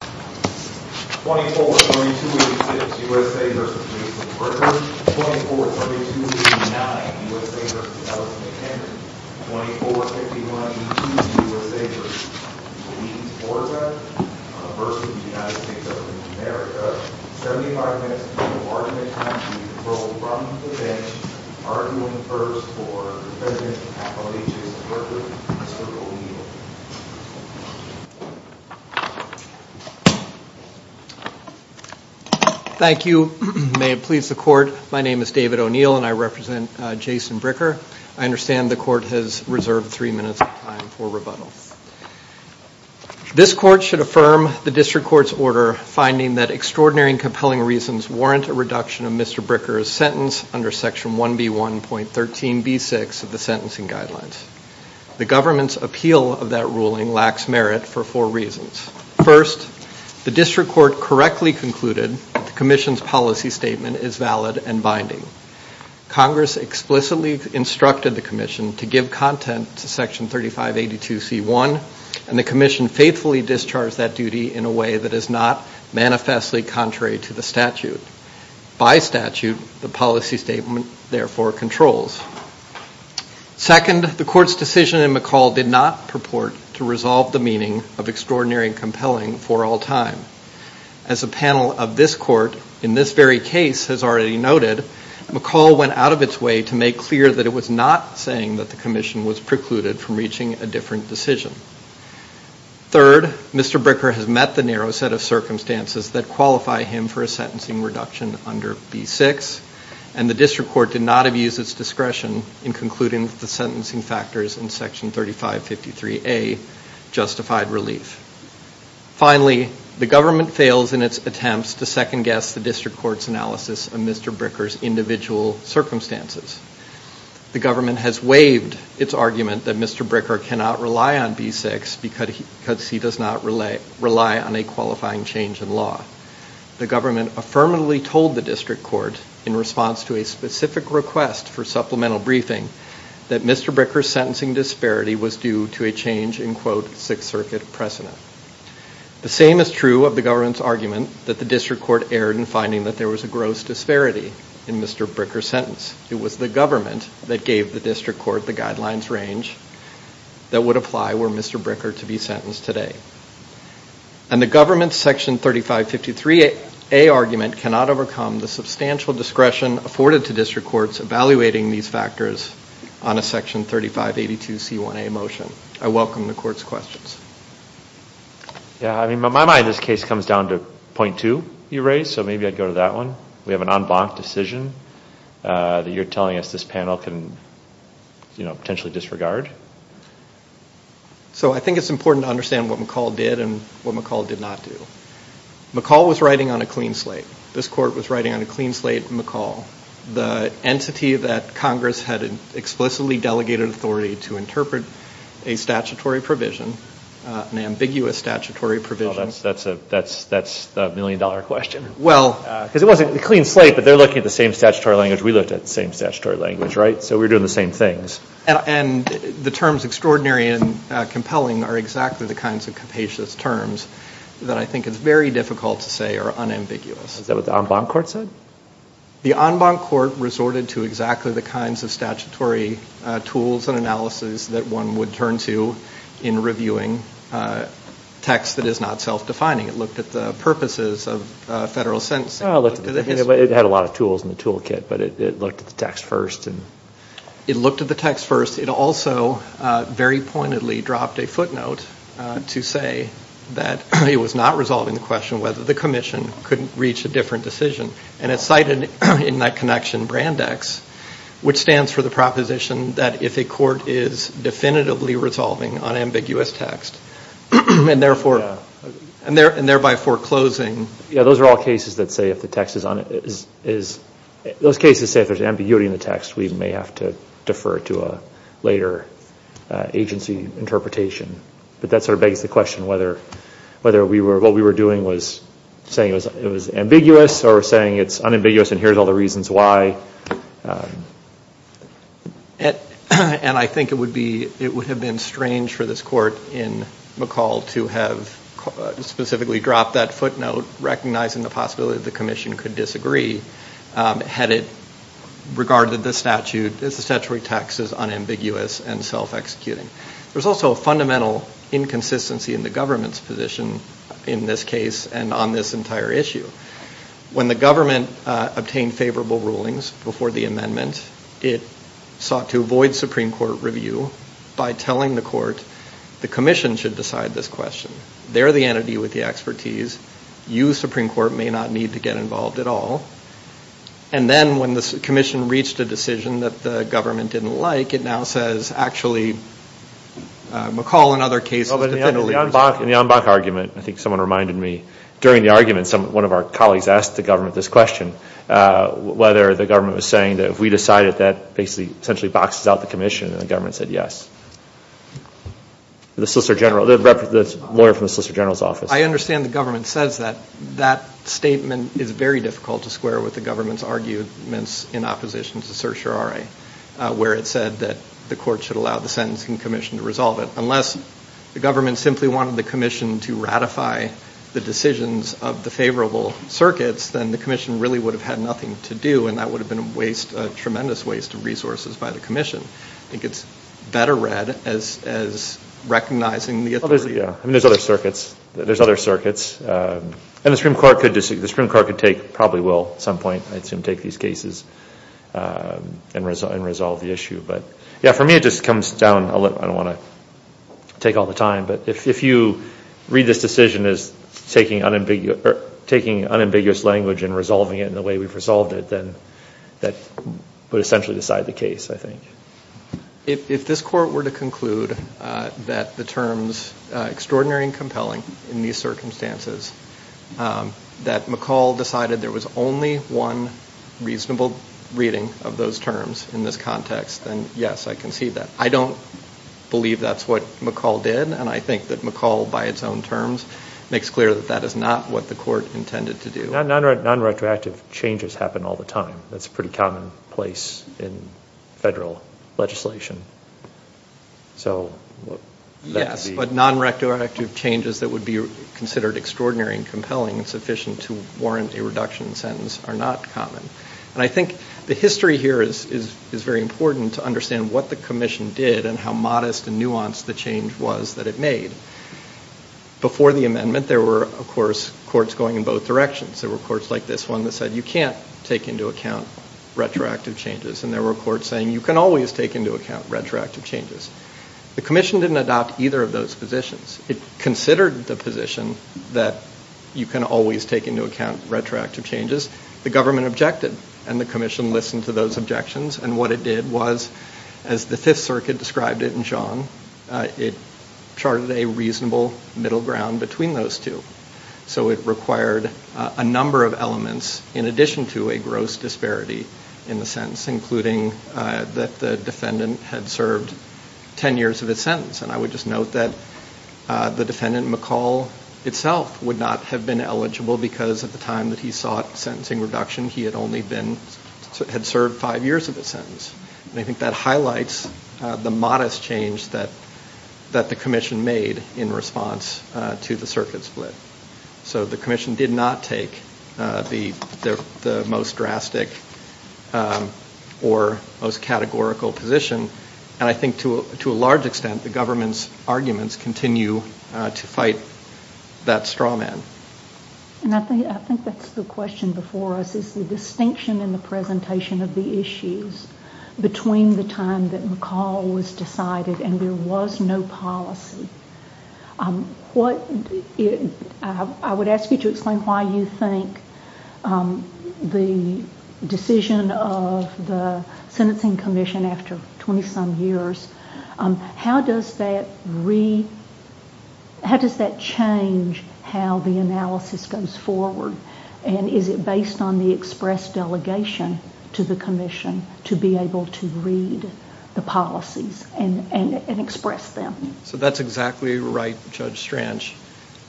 24-32-86 USA v. Jason Bricker 24-32-89 USA v. Allison McHenry 24-51-82 USA v. Louise Orweck v. United States of America 75 minutes until argument time. Please roll from the bench. Arguing first for Defendant Appellee Jason Bricker, Mr. O'Neill. Thank you. May it please the Court, my name is David O'Neill and I represent Jason Bricker. I understand the Court has reserved three minutes of time for rebuttal. This Court should affirm the District Court's order finding that extraordinary and compelling reasons warrant a reduction of Mr. Bricker's sentence under Section 1B1.13b6 of the Sentencing Guidelines. The government's appeal of that ruling lacks merit for four reasons. First, the District Court correctly concluded that the Commission's policy statement is valid and binding. Congress explicitly instructed the Commission to give content to Section 3582c1 and the Commission faithfully discharged that duty in a way that is not manifestly contrary to the statute. By statute, the policy statement therefore controls. Second, the Court's decision in McCall did not purport to resolve the meaning of extraordinary and compelling for all time. As a panel of this Court in this very case has already noted, McCall went out of its way to make clear that it was not saying that the Commission was precluded from reaching a different decision. Third, Mr. Bricker has met the narrow set of circumstances that qualify him for a sentencing reduction under B6 and the District Court did not abuse its discretion in concluding that the sentencing factors in Section 3553a justified relief. Finally, the government fails in its attempts to second-guess the District Court's analysis of Mr. Bricker's individual circumstances. The government has waived its argument that Mr. Bricker cannot rely on B6 because he does not rely on a qualifying change in law. The government affirmatively told the District Court in response to a specific request for supplemental briefing that Mr. Bricker's sentencing disparity was due to a change in quote, Sixth Circuit precedent. The same is true of the government's argument that the District Court erred in finding that there was a gross disparity in Mr. Bricker's sentence. It was the government that gave the District Court the guidelines range that would apply were Mr. Bricker to be sentenced today. And the government's Section 3553a argument cannot overcome the substantial discretion afforded to District Courts evaluating these factors on a Section 3582c1a motion. I welcome the Court's questions. Yeah, I mean, in my mind this case comes down to point two you raised, so maybe I'd go to that one. We have an en banc decision that you're telling us this panel can, you know, potentially disregard. So I think it's important to understand what McCaul did and what McCaul did not do. McCaul was writing on a clean slate. This Court was writing on a clean slate McCaul, the entity that Congress had explicitly delegated authority to interpret a statutory provision, an ambiguous statutory provision. Oh, that's a million-dollar question. Well. Because it wasn't a clean slate, but they're looking at the same statutory language. We looked at the same statutory language, right? So we were doing the same things. And the terms extraordinary and compelling are exactly the kinds of capacious terms that I think is very difficult to say are unambiguous. Is that what the en banc Court said? The en banc Court resorted to exactly the kinds of statutory tools and analysis that one would turn to in reviewing text that is not self-defining. It looked at the purposes of federal sentencing. It had a lot of tools in the toolkit, but it looked at the text first. It looked at the text first. It also very pointedly dropped a footnote to say that it was not resolving the question whether the commission could reach a different decision. And it cited in that connection BRANDEX, which stands for the proposition that if a court is definitively resolving unambiguous text and thereby foreclosing. Those are all cases that say if there's ambiguity in the text, we may have to defer to a later agency interpretation. But that sort of begs the question whether what we were doing was saying it was ambiguous or saying it's unambiguous and here's all the reasons why. And I think it would have been strange for this court in McCall to have specifically dropped that footnote recognizing the possibility that the commission could disagree, had it regarded the statute as unambiguous and self-executing. There's also a fundamental inconsistency in the government's position in this case and on this entire issue. When the government obtained favorable rulings before the amendment, it sought to avoid Supreme Court review by telling the court the commission should decide this question. They're the entity with the expertise. You, Supreme Court, may not need to get involved at all. And then when the commission reached a decision that the government didn't like, it now says actually McCall and other cases definitively resolve. In the Ambach argument, I think someone reminded me, during the argument one of our colleagues asked the government this question, whether the government was saying that if we decided that basically essentially boxes out the commission and the government said yes. The solicitor general, the lawyer from the solicitor general's office. I understand the government says that. That statement is very difficult to square with the government's arguments in opposition to certiorari where it said that the court should allow the sentencing commission to resolve it. Unless the government simply wanted the commission to ratify the decisions of the favorable circuits, then the commission really would have had nothing to do. And that would have been a waste, a tremendous waste of resources by the commission. I think it's better read as recognizing the authority. There's other circuits. There's other circuits. And the Supreme Court could take, probably will at some point, I assume take these cases and resolve the issue. But, yeah, for me it just comes down, I don't want to take all the time, but if you read this decision as taking unambiguous language and resolving it in the way we've resolved it, then that would essentially decide the case, I think. If this court were to conclude that the terms extraordinary and compelling in these circumstances, that McCall decided there was only one reasonable reading of those terms in this context, then, yes, I can see that. I don't believe that's what McCall did, and I think that McCall, by its own terms, makes clear that that is not what the court intended to do. Nonretroactive changes happen all the time. That's a pretty common place in federal legislation. Yes, but nonretroactive changes that would be considered extraordinary and compelling and sufficient to warrant a reduction sentence are not common. And I think the history here is very important to understand what the commission did and how modest and nuanced the change was that it made. Before the amendment, there were, of course, courts going in both directions. There were courts like this one that said you can't take into account retroactive changes, and there were courts saying you can always take into account retroactive changes. The commission didn't adopt either of those positions. It considered the position that you can always take into account retroactive changes. The government objected, and the commission listened to those objections, and what it did was, as the Fifth Circuit described it in John, it charted a reasonable middle ground between those two. So it required a number of elements in addition to a gross disparity in the sentence, including that the defendant had served 10 years of his sentence. And I would just note that the defendant, McCall, itself would not have been eligible because at the time that he sought sentencing reduction, he had served five years of his sentence. And I think that highlights the modest change that the commission made in response to the circuit split. So the commission did not take the most drastic or most categorical position, and I think to a large extent the government's arguments continue to fight that straw man. I think that's the question before us, is the distinction in the presentation of the issues between the time that McCall was decided and there was no policy. I would ask you to explain why you think the decision of the Sentencing Commission after 20-some years, how does that change how the analysis goes forward? And is it based on the express delegation to the commission to be able to read the policies and express them? So that's exactly right, Judge Stranch.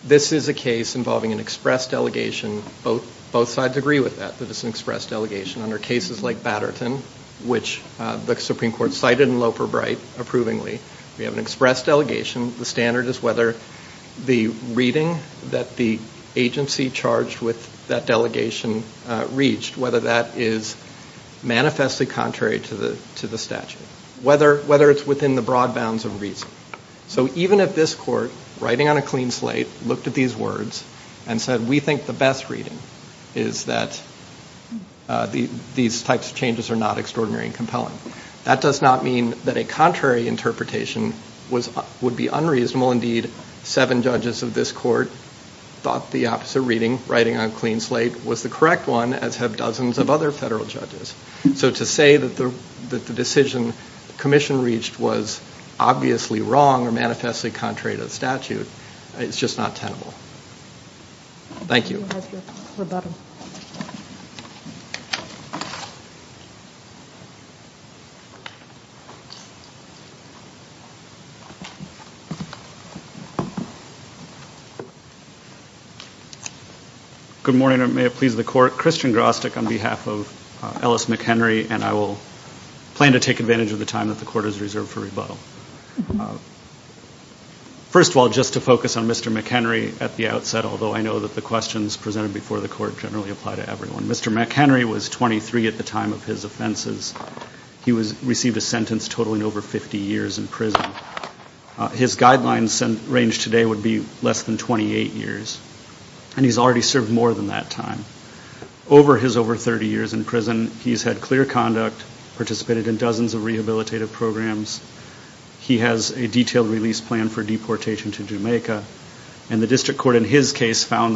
This is a case involving an express delegation. Both sides agree with that, that it's an express delegation. Under cases like Batterton, which the Supreme Court cited in Loper Bright approvingly, we have an express delegation. The standard is whether the reading that the agency charged with that delegation reached, whether that is manifestly contrary to the statute, whether it's within the broad bounds of reason. So even if this court, writing on a clean slate, looked at these words and said, we think the best reading is that these types of changes are not extraordinary and compelling. That does not mean that a contrary interpretation would be unreasonable. Indeed, seven judges of this court thought the opposite reading, writing on a clean slate, was the correct one, as have dozens of other federal judges. So to say that the decision the commission reached was obviously wrong or manifestly contrary to the statute is just not tenable. Thank you. Mr. McHenry has your rebuttal. Good morning, and may it please the Court. Christian Grostek on behalf of Ellis McHenry, and I will plan to take advantage of the time that the Court has reserved for rebuttal. First of all, just to focus on Mr. McHenry at the outset, although I know that the questions presented before the Court generally apply to everyone. Mr. McHenry was 23 at the time of his offenses. He received a sentence totaling over 50 years in prison. His guidelines range today would be less than 28 years, and he's already served more than that time. Over his over 30 years in prison, he's had clear conduct, participated in dozens of rehabilitative programs. He has a detailed release plan for deportation to Jamaica, and the district court in his case found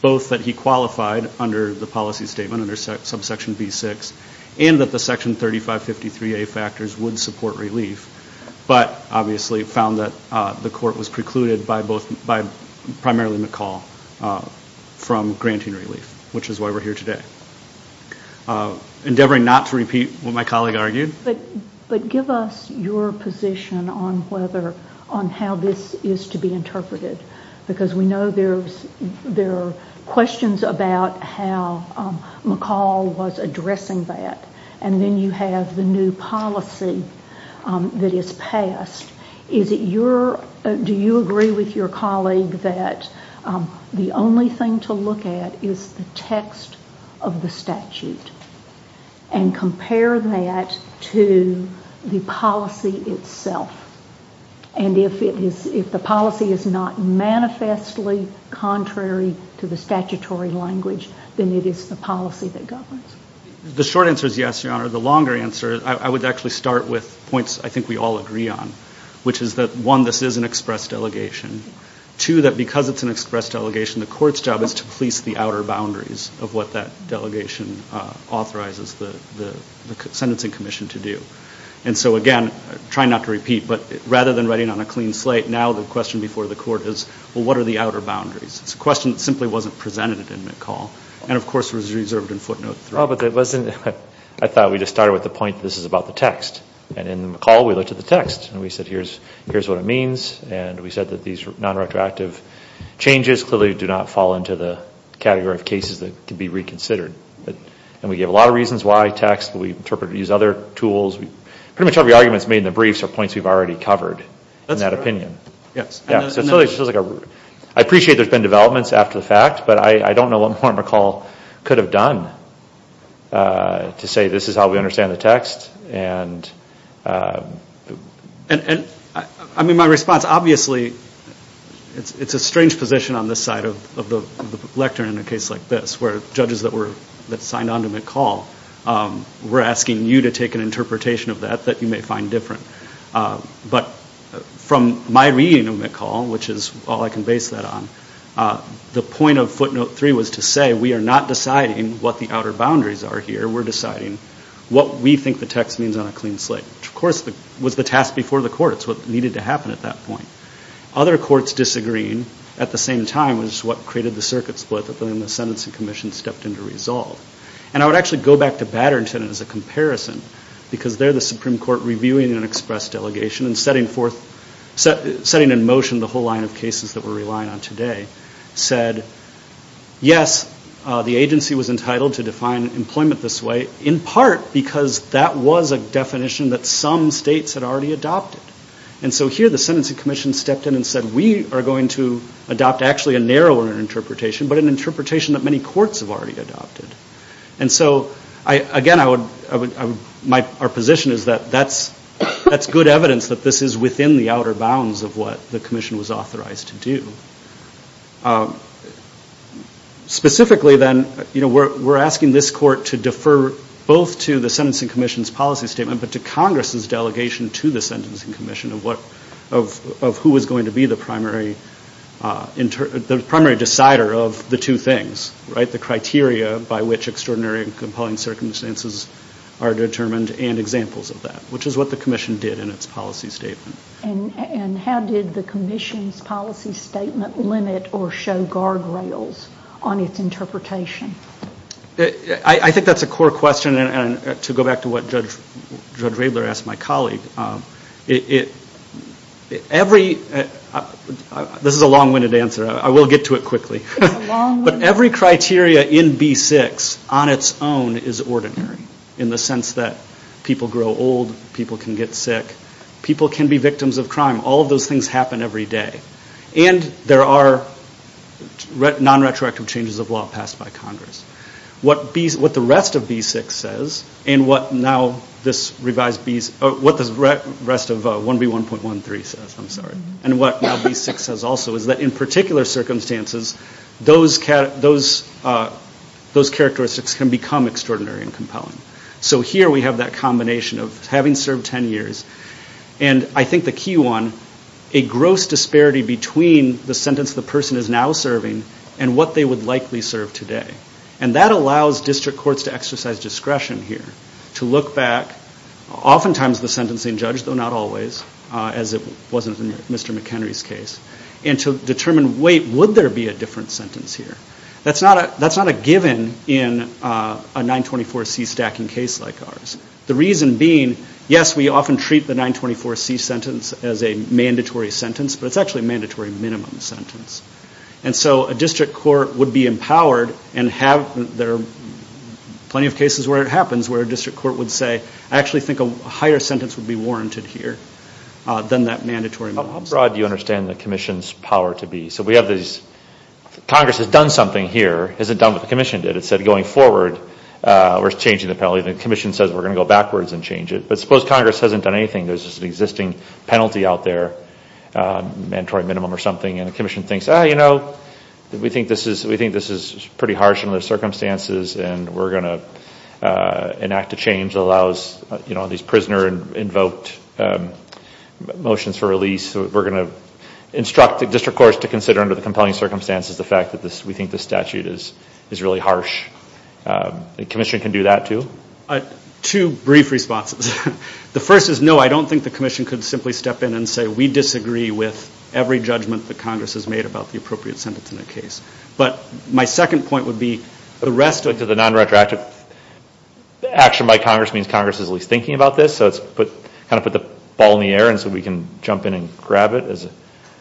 both that he qualified under the policy statement under subsection B6 and that the section 3553A factors would support relief, but obviously found that the court was precluded by primarily McCall from granting relief, which is why we're here today. Endeavoring not to repeat what my colleague argued. But give us your position on how this is to be interpreted, because we know there are questions about how McCall was addressing that, and then you have the new policy that is passed. Do you agree with your colleague that the only thing to look at is the text of the statute and compare that to the policy itself? And if the policy is not manifestly contrary to the statutory language, then it is the policy that governs. The short answer is yes, Your Honor. The longer answer, I would actually start with points I think we all agree on, which is that, one, this is an express delegation. Two, that because it's an express delegation, the court's job is to police the outer boundaries of what that delegation authorizes the sentencing commission to do. And so, again, I'm trying not to repeat, but rather than writing on a clean slate, now the question before the court is, well, what are the outer boundaries? It's a question that simply wasn't presented in McCall, and, of course, was reserved in footnote three. I thought we just started with the point that this is about the text. And in McCall, we looked at the text, and we said here's what it means, and we said that these nonretroactive changes clearly do not fall into the category of cases that can be reconsidered. And we gave a lot of reasons why text, but we interpreted it to use other tools. Pretty much every argument that's made in the briefs are points we've already covered in that opinion. I appreciate there's been developments after the fact, but I don't know what more McCall could have done to say this is how we understand the text. My response, obviously, it's a strange position on this side of the lectern in a case like this, where judges that signed on to McCall were asking you to take an interpretation of that that you may find different. But from my reading of McCall, which is all I can base that on, the point of footnote three was to say we are not deciding what the outer boundaries are here. We're deciding what we think the text means on a clean slate, which, of course, was the task before the court. It's what needed to happen at that point. Other courts disagreeing at the same time was what created the circuit split that then the Sentencing Commission stepped in to resolve. And I would actually go back to Batterington as a comparison, because they're the Supreme Court reviewing an express delegation and setting in motion the whole line of cases that we're relying on today, said, yes, the agency was entitled to define employment this way, in part because that was a definition that some states had already adopted. And so here the Sentencing Commission stepped in and said, we are going to adopt actually a narrower interpretation, but an interpretation that many courts have already adopted. And so, again, our position is that that's good evidence that this is within the outer bounds of what the commission was authorized to do. Specifically, then, we're asking this court to defer both to the Sentencing Commission's policy statement but to Congress's delegation to the Sentencing Commission of who was going to be the primary decider of the two things, right, the criteria by which extraordinary and compelling circumstances are determined and examples of that, which is what the commission did in its policy statement. And how did the commission's policy statement limit or show guardrails on its interpretation? I think that's a core question. And to go back to what Judge Raebler asked my colleague, every – this is a long-winded answer. I will get to it quickly. But every criteria in B-6 on its own is ordinary in the sense that people grow old, people can get sick, people can be victims of crime. All of those things happen every day. And there are non-retroactive changes of law passed by Congress. What the rest of B-6 says and what now this revised – what the rest of 1B1.13 says, I'm sorry, and what now B-6 says also is that in particular circumstances, those characteristics can become extraordinary and compelling. So here we have that combination of having served 10 years. And I think the key one, a gross disparity between the sentence the person is now serving and what they would likely serve today. And that allows district courts to exercise discretion here, to look back. Oftentimes the sentencing judge, though not always, as it wasn't in Mr. McHenry's case, and to determine, wait, would there be a different sentence here? That's not a given in a 924C stacking case like ours. The reason being, yes, we often treat the 924C sentence as a mandatory sentence, but it's actually a mandatory minimum sentence. And so a district court would be empowered and have – there are plenty of cases where it happens where a district court would say, I actually think a higher sentence would be warranted here than that mandatory minimum sentence. How broad do you understand the commission's power to be? So we have these – Congress has done something here. It hasn't done what the commission did. It said going forward we're changing the penalty. The commission says we're going to go backwards and change it. But suppose Congress hasn't done anything. There's just an existing penalty out there, mandatory minimum or something, and the commission thinks, oh, you know, we think this is pretty harsh under the circumstances and we're going to enact a change that allows, you know, these prisoner-invoked motions for release. We're going to instruct the district courts to consider under the compelling circumstances the fact that we think this statute is really harsh. The commission can do that too? Two brief responses. The first is, no, I don't think the commission could simply step in and say we disagree with every judgment that Congress has made about the appropriate sentence in the case. But my second point would be the rest of it. So the nonretroactive action by Congress means Congress is at least thinking about this, so it's kind of put the ball in the air and so we can jump in and grab it?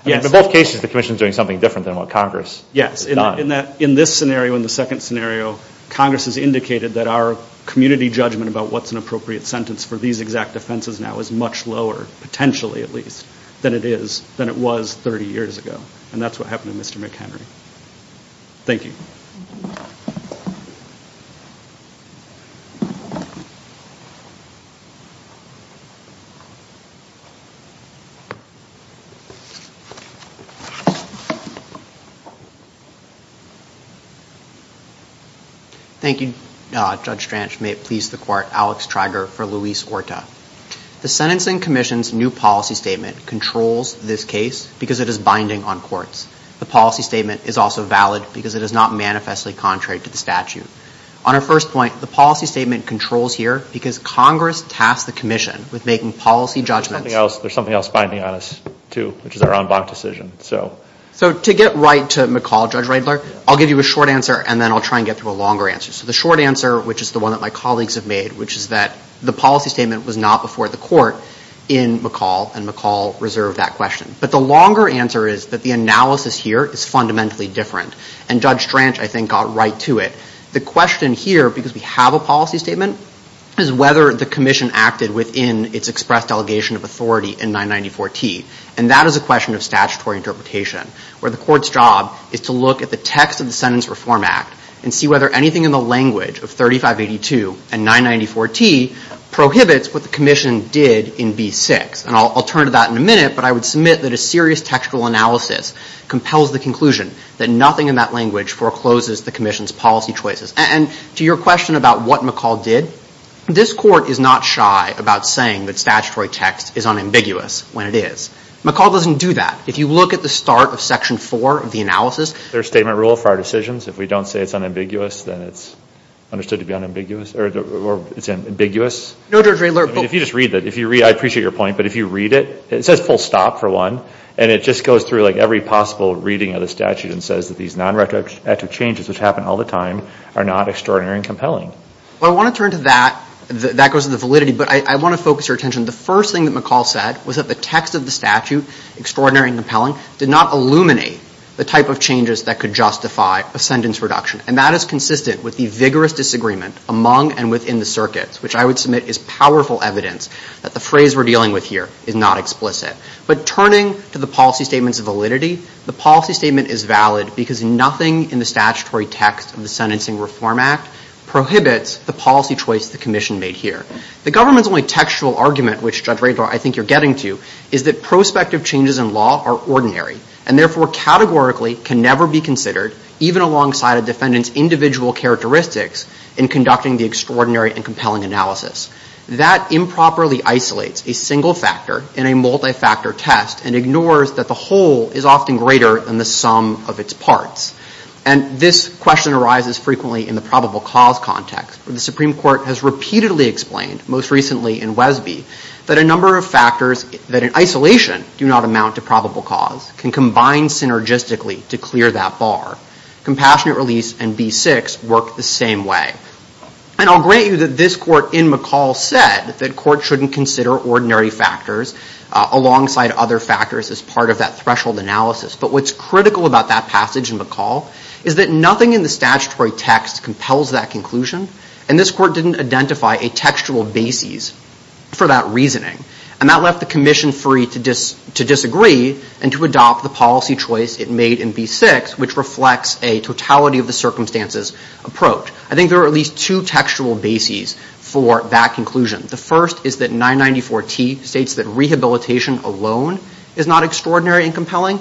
Yes. In both cases the commission is doing something different than what Congress has done. Yes. In this scenario and the second scenario, Congress has indicated that our community judgment about what's an appropriate sentence for these exact offenses now is much lower, potentially at least, than it was 30 years ago. And that's what happened to Mr. McHenry. Thank you. Thank you, Judge Stranch. May it please the Court, Alex Treiger for Luis Orta. The Sentencing Commission's new policy statement controls this case because it is binding on courts. The policy statement is also valid because it is not manifestly contrary to the statute. On our first point, the policy statement controls here because Congress tasked the commission with making policy judgments. There's something else binding on us too, which is our en banc decision. So to get right to McCall, Judge Riedler, I'll give you a short answer and then I'll try and get through a longer answer. So the short answer, which is the one that my colleagues have made, which is that the policy statement was not before the court in McCall, and McCall reserved that question. But the longer answer is that the analysis here is fundamentally different. And Judge Stranch, I think, got right to it. The question here, because we have a policy statement, is whether the commission acted within its expressed delegation of authority in 994T. And that is a question of statutory interpretation, where the court's job is to look at the text of the Sentence Reform Act and see whether anything in the language of 3582 and 994T prohibits what the commission did in B6. And I'll turn to that in a minute, but I would submit that a serious textual analysis compels the conclusion that nothing in that language forecloses the commission's policy choices. And to your question about what McCall did, this Court is not shy about saying that statutory text is unambiguous when it is. McCall doesn't do that. If you look at the start of Section 4 of the analysis, there's statement rule for our decisions. If we don't say it's unambiguous, then it's understood to be unambiguous or it's ambiguous. If you just read that, I appreciate your point, but if you read it, it says full stop, for one, and it just goes through like every possible reading of the statute and says that these non-retroactive changes, which happen all the time, are not extraordinary and compelling. Well, I want to turn to that. That goes to the validity. But I want to focus your attention. The first thing that McCall said was that the text of the statute, extraordinary and compelling, did not illuminate the type of changes that could justify a sentence reduction. And that is consistent with the vigorous disagreement among and within the circuits, which I would submit is powerful evidence that the phrase we're dealing with here is not explicit. But turning to the policy statement's validity, the policy statement is valid because nothing in the statutory text of the Sentencing Reform Act prohibits the policy choice the commission made here. The government's only textual argument, which, Judge Rader, I think you're getting to, is that prospective changes in law are ordinary and therefore categorically can never be considered, even alongside a defendant's individual characteristics in conducting the extraordinary and compelling analysis. That improperly isolates a single factor in a multi-factor test and ignores that the whole is often greater than the sum of its parts. And this question arises frequently in the probable cause context, where the Supreme Court has repeatedly explained, most recently in Wesby, that a number of factors that in isolation do not amount to probable cause can combine synergistically to clear that bar. Compassionate release and B6 work the same way. And I'll grant you that this court in McCall said that courts shouldn't consider ordinary factors alongside other factors as part of that threshold analysis. But what's critical about that passage in McCall is that nothing in the statutory text compels that conclusion, and this court didn't identify a textual basis for that reasoning. And that left the commission free to disagree and to adopt the policy choice it made in B6, which reflects a totality of the circumstances approach. I think there are at least two textual bases for that conclusion. The first is that 994T states that rehabilitation alone is not extraordinary and compelling.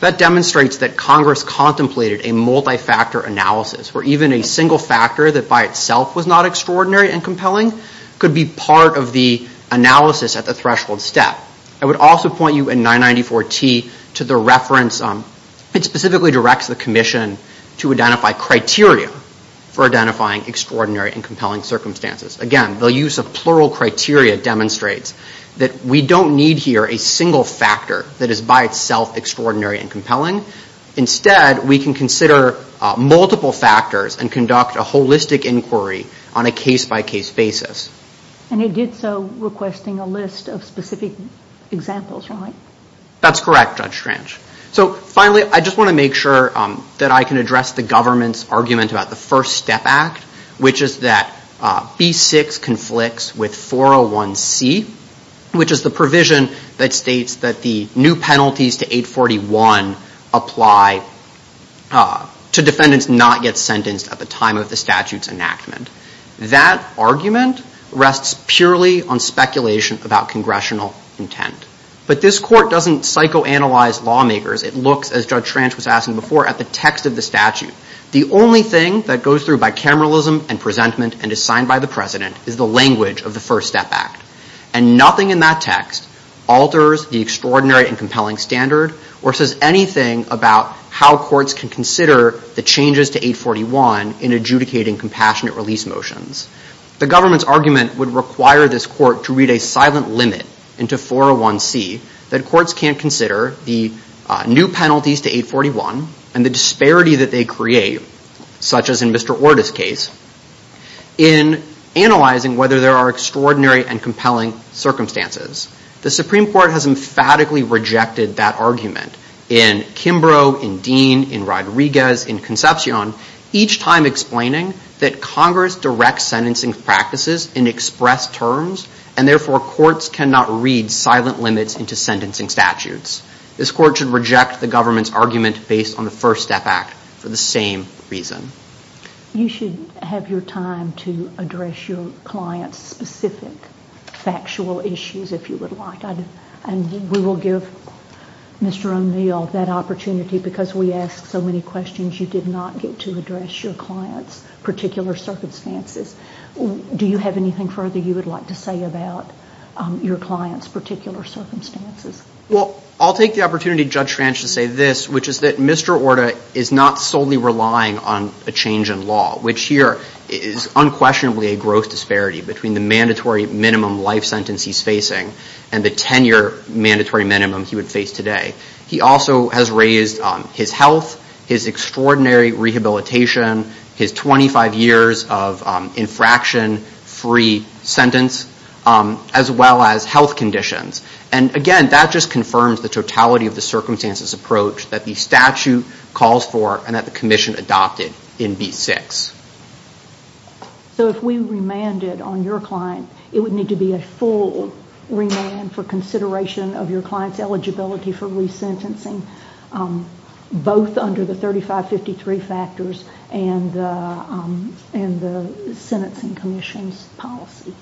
That demonstrates that Congress contemplated a multi-factor analysis where even a single factor that by itself was not extraordinary and compelling could be part of the analysis at the threshold step. I would also point you in 994T to the reference. It specifically directs the commission to identify criteria for identifying extraordinary and compelling circumstances. Again, the use of plural criteria demonstrates that we don't need here a single factor that is by itself extraordinary and compelling. Instead, we can consider multiple factors and conduct a holistic inquiry on a case-by-case basis. And it did so requesting a list of specific examples, right? That's correct, Judge Trench. So finally, I just want to make sure that I can address the government's argument about the First Step Act, which is that B6 conflicts with 401C, which is the provision that states that the new penalties to 841 apply to defendants not yet sentenced at the time of the statute's enactment. That argument rests purely on speculation about congressional intent. But this court doesn't psychoanalyze lawmakers. It looks, as Judge Trench was asking before, at the text of the statute. The only thing that goes through bicameralism and presentment and is signed by the president is the language of the First Step Act. And nothing in that text alters the extraordinary and compelling standard or says anything about how courts can consider the changes to 841 in adjudicating compassionate release motions. The government's argument would require this court to read a silent limit into 401C that courts can't consider the new penalties to 841 and the disparity that they create, such as in Mr. Orda's case, in analyzing whether there are extraordinary and compelling circumstances. The Supreme Court has emphatically rejected that argument in Kimbrough, in Dean, in Rodriguez, in Concepcion, each time explaining that Congress directs sentencing practices in expressed terms and therefore courts cannot read silent limits into sentencing statutes. This court should reject the government's argument based on the First Step Act for the same reason. You should have your time to address your client's specific factual issues if you would like. And we will give Mr. O'Neill that opportunity because we ask so many questions. You did not get to address your client's particular circumstances. Do you have anything further you would like to say about your client's particular circumstances? Well, I'll take the opportunity, Judge Franch, to say this, which is that Mr. Orda is not solely relying on a change in law, which here is unquestionably a gross disparity between the mandatory minimum life sentence he's facing and the 10-year mandatory minimum he would face today. He also has raised his health, his extraordinary rehabilitation, his 25 years of infraction-free sentence, as well as health conditions. And again, that just confirms the totality of the circumstances approach that the statute calls for and that the Commission adopted in B6. So if we remanded on your client, it would need to be a full remand for consideration of your client's eligibility for resentencing, both under the 3553 factors and the Sentencing Commission's policy?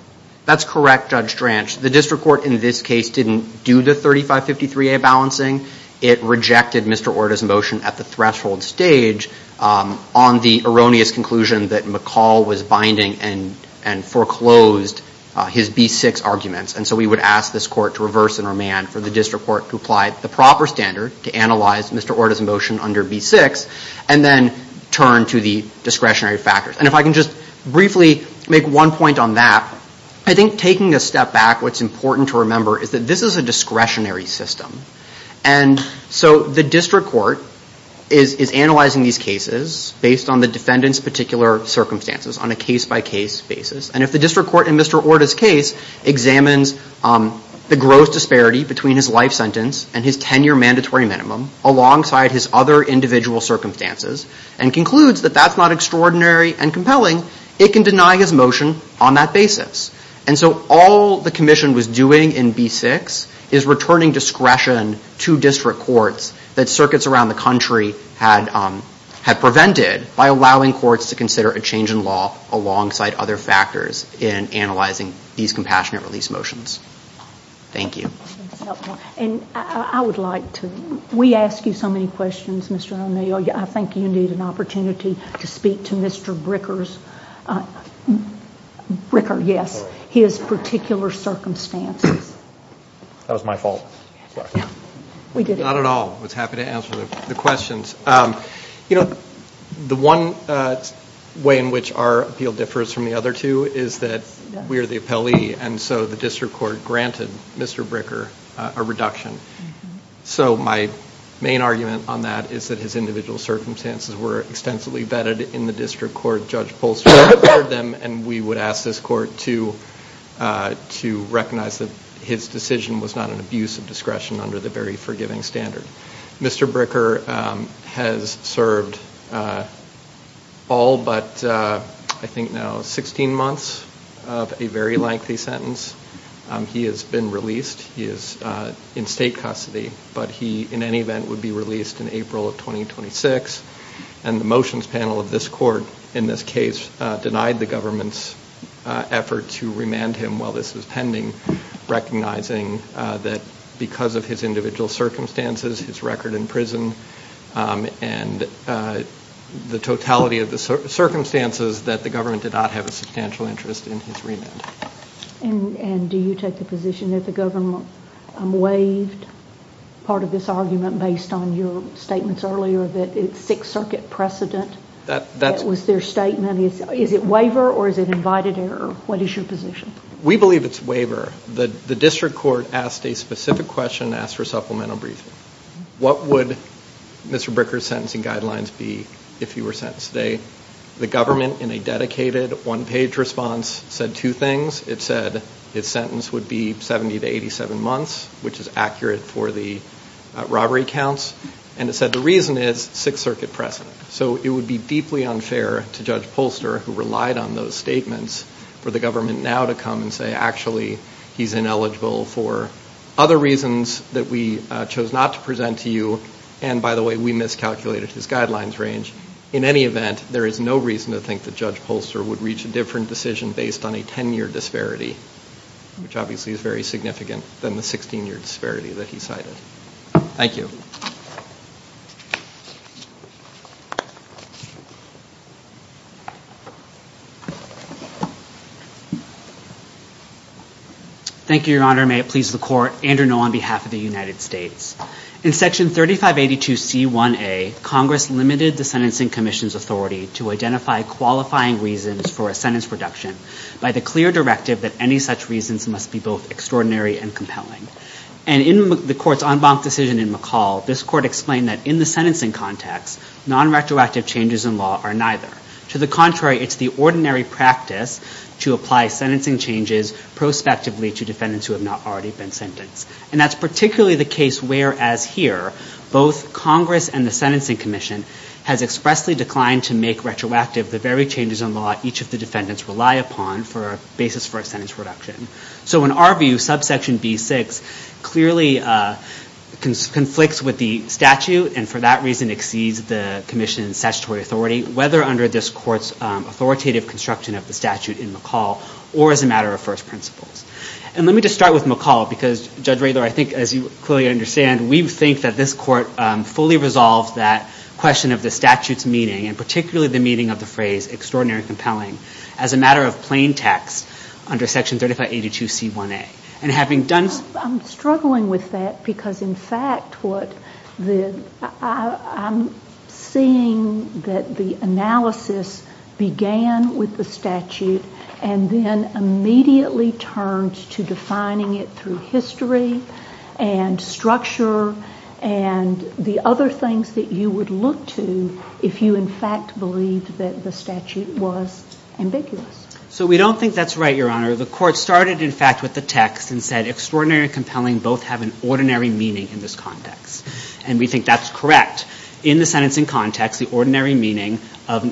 That's correct, Judge Franch. The district court in this case didn't do the 3553A balancing. It rejected Mr. Orda's motion at the threshold stage on the erroneous conclusion that McCall was binding and foreclosed his B6 arguments. And so we would ask this court to reverse and remand for the district court to apply the proper standard to analyze Mr. Orda's motion under B6 and then turn to the discretionary factors. And if I can just briefly make one point on that, I think taking a step back, what's important to remember is that this is a discretionary system. And so the district court is analyzing these cases based on the defendant's particular circumstances on a case-by-case basis. And if the district court in Mr. Orda's case examines the gross disparity between his life sentence and his 10-year mandatory minimum alongside his other individual circumstances and concludes that that's not extraordinary and compelling, it can deny his motion on that basis. And so all the Commission was doing in B6 is returning discretion to district courts that circuits around the country had prevented by allowing courts to consider a change in law alongside other factors in analyzing these compassionate release motions. Thank you. And I would like to... We ask you so many questions, Mr. O'Neill. I think you need an opportunity to speak to Mr. Bricker's... That was my fault. We did it. Not at all. I was happy to answer the questions. You know, the one way in which our appeal differs from the other two is that we are the appellee, and so the district court granted Mr. Bricker a reduction. So my main argument on that is that his individual circumstances were extensively vetted in the district court. Judge Poulster heard them, and we would ask this court to recognize that his decision was not an abuse of discretion under the very forgiving standard. Mr. Bricker has served all but, I think now, 16 months of a very lengthy sentence. He has been released. He is in state custody, but he, in any event, would be released in April of 2026. And the motions panel of this court, in this case, denied the government's effort to remand him while this was pending, recognizing that, because of his individual circumstances, his record in prison, and the totality of the circumstances, that the government did not have a substantial interest in his remand. And do you take the position that the government waived part of this argument based on your statements earlier that it's Sixth Circuit precedent? That was their statement. Is it waiver or is it invited error? What is your position? We believe it's waiver. The district court asked a specific question and asked for a supplemental briefing. What would Mr. Bricker's sentencing guidelines be if he were sentenced today? The government, in a dedicated one-page response, said two things. It said his sentence would be 70 to 87 months, which is accurate for the robbery counts, and it said the reason is Sixth Circuit precedent. So it would be deeply unfair to Judge Polster, who relied on those statements, for the government now to come and say, actually, he's ineligible for other reasons that we chose not to present to you, and, by the way, we miscalculated his guidelines range. In any event, there is no reason to think that Judge Polster would reach a different decision based on a 10-year disparity, which obviously is very significant than the 16-year disparity that he cited. Thank you. Thank you, Your Honor. May it please the Court. Andrew Ngo, on behalf of the United States. In Section 3582C1A, Congress limited the Sentencing Commission's authority to identify qualifying reasons for a sentence reduction by the clear directive that any such reasons must be both extraordinary and compelling. And in the Court's en banc decision in McCall, this Court explained that in the sentencing context, nonretroactive changes in law are neither. To the contrary, it's the ordinary practice to apply sentencing changes prospectively to defendants who have not already been sentenced. And that's particularly the case where, as here, both Congress and the Sentencing Commission has expressly declined to make retroactive the very changes in law each of the defendants rely upon for a basis for a sentence reduction. So in our view, subsection B6 clearly conflicts with the statute and, for that reason, exceeds the Commission's statutory authority, whether under this Court's authoritative construction of the statute in McCall or as a matter of first principles. And let me just start with McCall, because, Judge Raylor, I think, as you clearly understand, we think that this Court fully resolved that question of the statute's meaning, and particularly the meaning of the phrase extraordinary and compelling, as a matter of plain text under Section 3582C1A. And having done... I'm struggling with that because, in fact, I'm seeing that the analysis began with the statute and then immediately turned to defining it through history and structure and the other things that you would look to if you, in fact, believed that the statute was ambiguous. So we don't think that's right, Your Honor. The Court started, in fact, with the text and said extraordinary and compelling both have an ordinary meaning in this context. And we think that's correct. In the sentencing context, the ordinary meaning of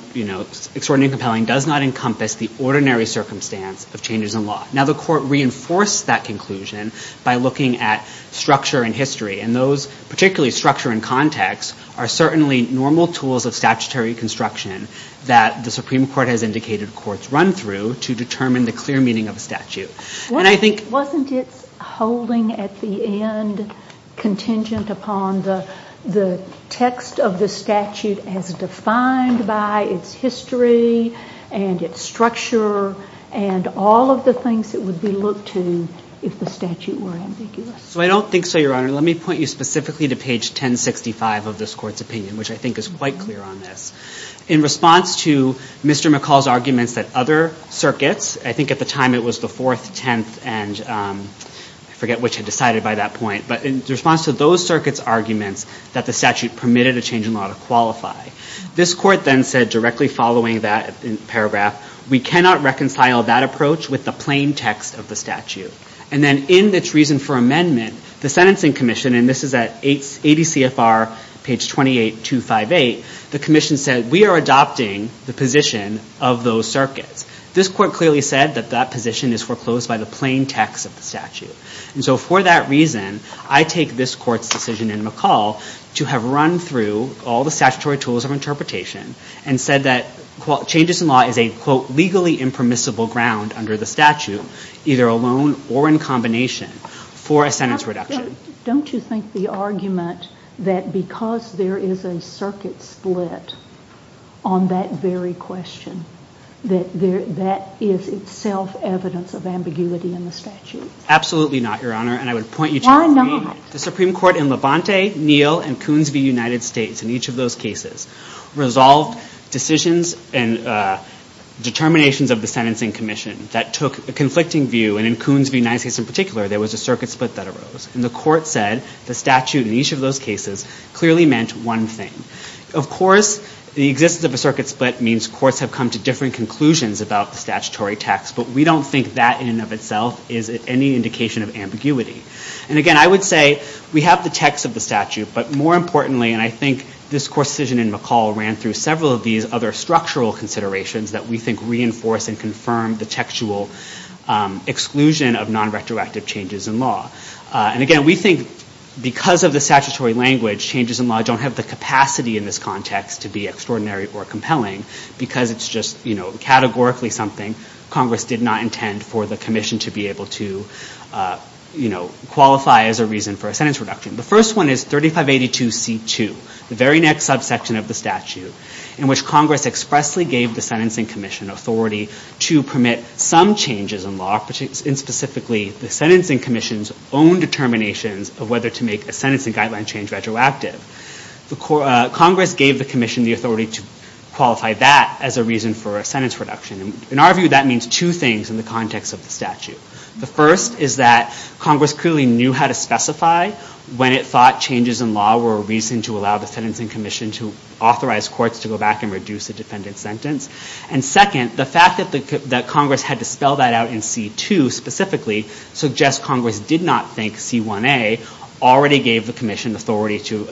extraordinary and compelling does not encompass the ordinary circumstance of changes in law. Now, the Court reinforced that conclusion by looking at structure and history, and those, particularly structure and context, are certainly normal tools of statutory construction that the Supreme Court has indicated courts run through to determine the clear meaning of a statute. And I think... Wasn't its holding at the end contingent upon the text of the statute as defined by its history and its structure and all of the things that would be looked to if the statute were ambiguous? So I don't think so, Your Honor. Let me point you specifically to page 1065 of this Court's opinion, which I think is quite clear on this. In response to Mr. McCall's arguments that other circuits, I think at the time it was the 4th, 10th, and... I forget which had decided by that point. But in response to those circuits' arguments that the statute permitted a change in law to qualify, this Court then said, directly following that paragraph, we cannot reconcile that approach with the plain text of the statute. And then in its reason for amendment, the Sentencing Commission, and this is at 80 CFR, page 28258, the Commission said, we are adopting the position of those circuits. This Court clearly said that that position is foreclosed by the plain text of the statute. And so for that reason, I take this Court's decision in McCall to have run through all the statutory tools of interpretation and said that changes in law is a, quote, legally impermissible ground under the statute, either alone or in combination, for a sentence reduction. Don't you think the argument that because there is a circuit split on that very question, that that is itself evidence of ambiguity in the statute? Absolutely not, Your Honor, and I would point you to... Why not? The Supreme Court in Levante, Neal, and Coonsville, United States, in each of those cases, resolved decisions and determinations of the Sentencing Commission that took a conflicting view, and in Coonsville, United States in particular, there was a circuit split that arose. And the Court said the statute in each of those cases clearly meant one thing. Of course, the existence of a circuit split means courts have come to different conclusions about the statutory text, but we don't think that in and of itself is any indication of ambiguity. And again, I would say we have the text of the statute, but more importantly, and I think this Court's decision in McCall ran through several of these other structural considerations that we think reinforce and confirm the textual exclusion of non-retroactive changes in law. And again, we think because of the statutory language, changes in law don't have the capacity in this context to be extraordinary or compelling because it's just categorically something Congress did not intend for the Commission to be able to qualify as a reason for a sentence reduction. The first one is 3582C2, the very next subsection of the statute, in which Congress expressly gave the Sentencing Commission authority to permit some changes in law, and specifically the Sentencing Commission's own determinations of whether to make a sentencing guideline change retroactive. Congress gave the Commission the authority to qualify that as a reason for a sentence reduction. In our view, that means two things in the context of the statute. The first is that Congress clearly knew how to specify when it thought changes in law were a reason to allow the Sentencing Commission to authorize courts to go back and reduce a defendant's sentence. And second, the fact that Congress had to spell that out in C2 specifically suggests Congress did not think C1a already gave the Commission the authority to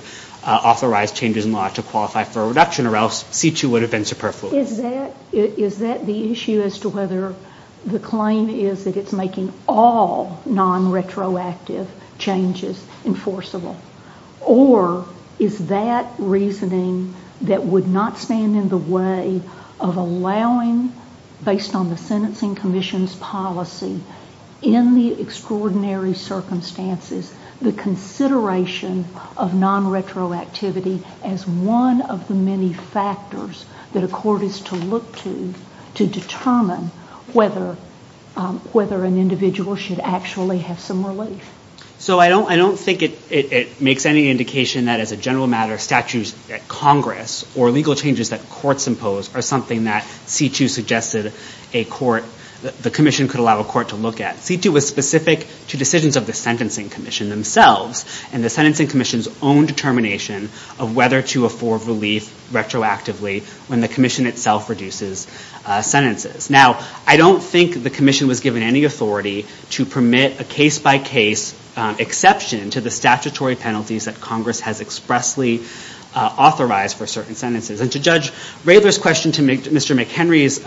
authorize changes in law to qualify for a reduction, or else C2 would have been superfluous. Is that the issue as to whether the claim is that it's making all non-retroactive changes enforceable? Or is that reasoning that would not stand in the way of allowing, based on the Sentencing Commission's policy, in the extraordinary circumstances, the consideration of non-retroactivity as one of the many factors that a court is to look to to determine whether an individual should actually have some relief? So I don't think it makes any indication that as a general matter, statutes at Congress or legal changes that courts impose are something that C2 suggested a court, the Commission could allow a court to look at. C2 was specific to decisions of the Sentencing Commission themselves and the Sentencing Commission's own determination of whether to afford relief retroactively when the Commission itself reduces sentences. Now, I don't think the Commission was given any authority to permit a case-by-case exception to the statutory penalties that Congress has expressly authorized for certain sentences. And to Judge Rayler's question to Mr. McHenry's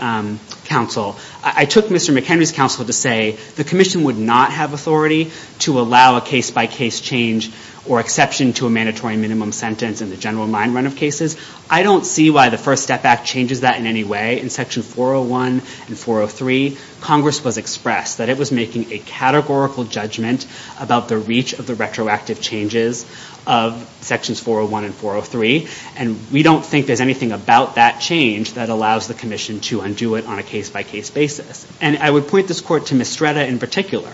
counsel, I took Mr. McHenry's counsel to say the Commission would not have authority to allow a case-by-case change or exception to a mandatory minimum sentence in the general mind run of cases. I don't see why the First Step Act changes that in any way. In Section 401 and 403, Congress was expressed that it was making a categorical judgment about the reach of the retroactive changes of Sections 401 and 403. And we don't think there's anything about that change that allows the Commission to undo it on a case-by-case basis. And I would point this Court to Mistretta in particular,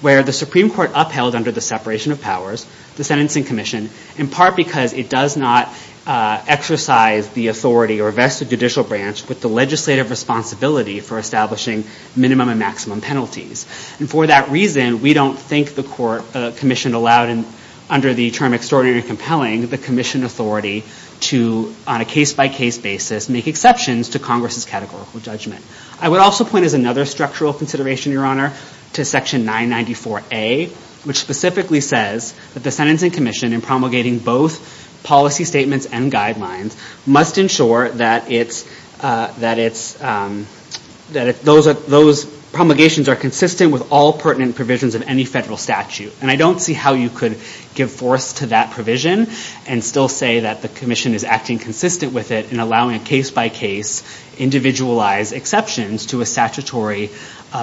where the Supreme Court upheld under the separation of powers the Sentencing Commission in part because it does not exercise the authority or vested judicial branch with the legislative responsibility for establishing minimum and maximum penalties. And for that reason, we don't think the Commission allowed under the term extraordinary and compelling the Commission authority to, on a case-by-case basis, make exceptions to Congress's categorical judgment. I would also point, as another structural consideration, Your Honor, to Section 994A, which specifically says that the Sentencing Commission, in promulgating both policy statements and guidelines, must ensure that those promulgations are consistent with all pertinent provisions of any federal statute. And I don't see how you could give force to that provision and still say that the Commission is acting consistent with it in allowing a case-by-case individualized exceptions to a statutory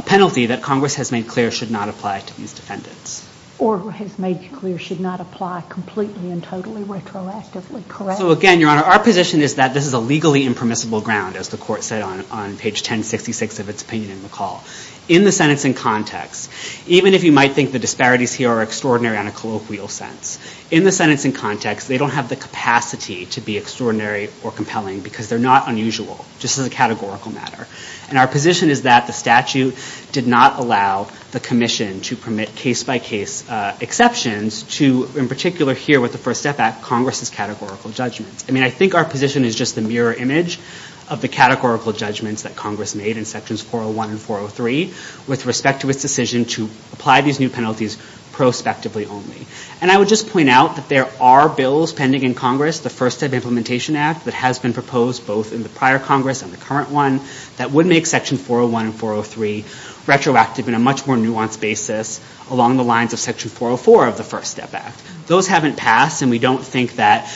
penalty that Congress has made clear should not apply to these defendants. Or has made clear should not apply completely and totally retroactively, correct? So again, Your Honor, our position is that this is a legally impermissible ground, as the Court said on page 1066 of its opinion in McCall. In the sentencing context, even if you might think the disparities here are extraordinary on a colloquial sense, in the sentencing context, they don't have the capacity to be extraordinary or compelling because they're not unusual, just as a categorical matter. And our position is that the statute did not allow the Commission to permit case-by-case exceptions to, in particular here with the First Step Act, Congress's categorical judgments. I mean, I think our position is just the mirror image of the categorical judgments that Congress made in Sections 401 and 403 with respect to its decision to apply these new penalties prospectively only. And I would just point out that there are bills pending in Congress, the First Step Implementation Act, that has been proposed both in the prior Congress and the current one, that would make Section 401 and 403 retroactive in a much more nuanced basis along the lines of Section 404 of the First Step Act. Those haven't passed, and we don't think that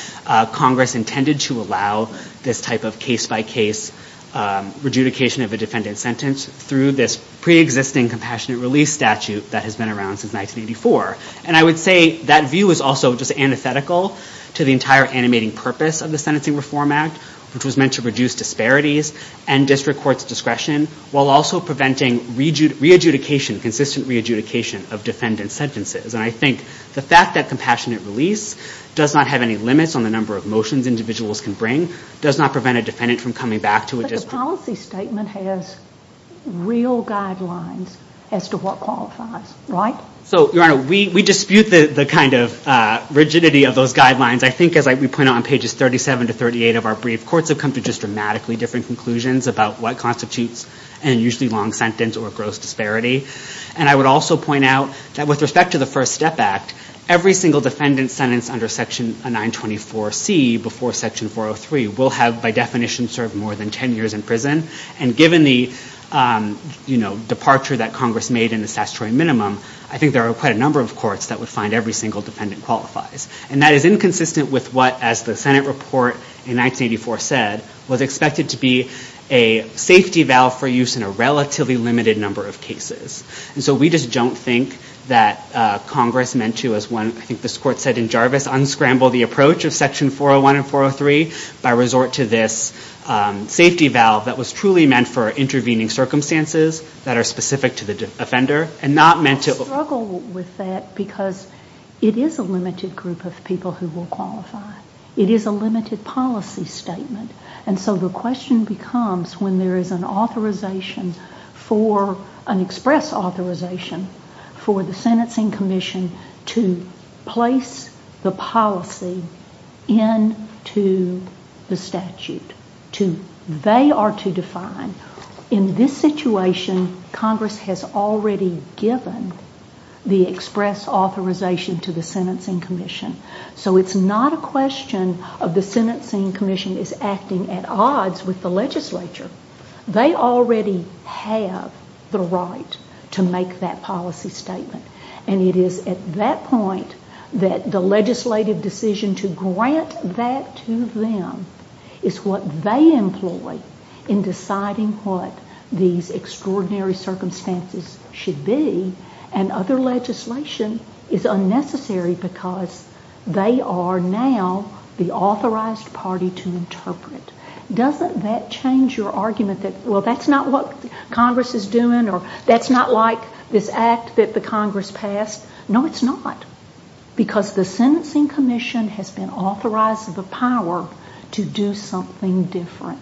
Congress intended to allow this type of case-by-case rejudication of a defendant's sentence through this pre-existing compassionate release statute that has been around since 1984. And I would say that view is also just antithetical to the entire animating purpose of the Sentencing Reform Act, which was meant to reduce disparities and district court's discretion, while also preventing re-adjudication, consistent re-adjudication, of defendant's sentences. And I think the fact that compassionate release does not have any limits on the number of motions individuals can bring does not prevent a defendant from coming back to a district. But the policy statement has real guidelines as to what qualifies, right? So, Your Honor, we dispute the kind of rigidity of those guidelines. I think, as we point out on pages 37 to 38 of our brief, courts have come to just dramatically different conclusions about what constitutes an unusually long sentence or a gross disparity. And I would also point out that with respect to the First Step Act, every single defendant sentenced under Section 924C before Section 403 will have, by definition, served more than 10 years in prison. And given the departure that Congress made in the statutory minimum, I think there are quite a number of courts that would find every single defendant qualifies. And that is inconsistent with what, as the Senate report in 1984 said, was expected to be a safety valve for use in a relatively limited number of cases. And so we just don't think that Congress meant to, as I think this Court said in Jarvis, unscramble the approach of Section 401 and 403 by resort to this safety valve that was truly meant for intervening circumstances that are specific to the offender and not meant to... We struggle with that because it is a limited group of people who will qualify. It is a limited policy statement. And so the question becomes when there is an authorization for an express authorization for the Sentencing Commission to place the policy into the statute, they are to define in this situation Congress has already given the express authorization to the Sentencing Commission. So it's not a question of the Sentencing Commission is acting at odds with the legislature. They already have the right to make that policy statement. And it is at that point that the legislative decision to grant that to them is what they employ in deciding what these extraordinary circumstances should be and other legislation is unnecessary because they are now the authorized party to interpret. Doesn't that change your argument that, well, that's not what Congress is doing or that's not like this act that the Congress passed? No, it's not because the Sentencing Commission has been authorized to the power to do something different.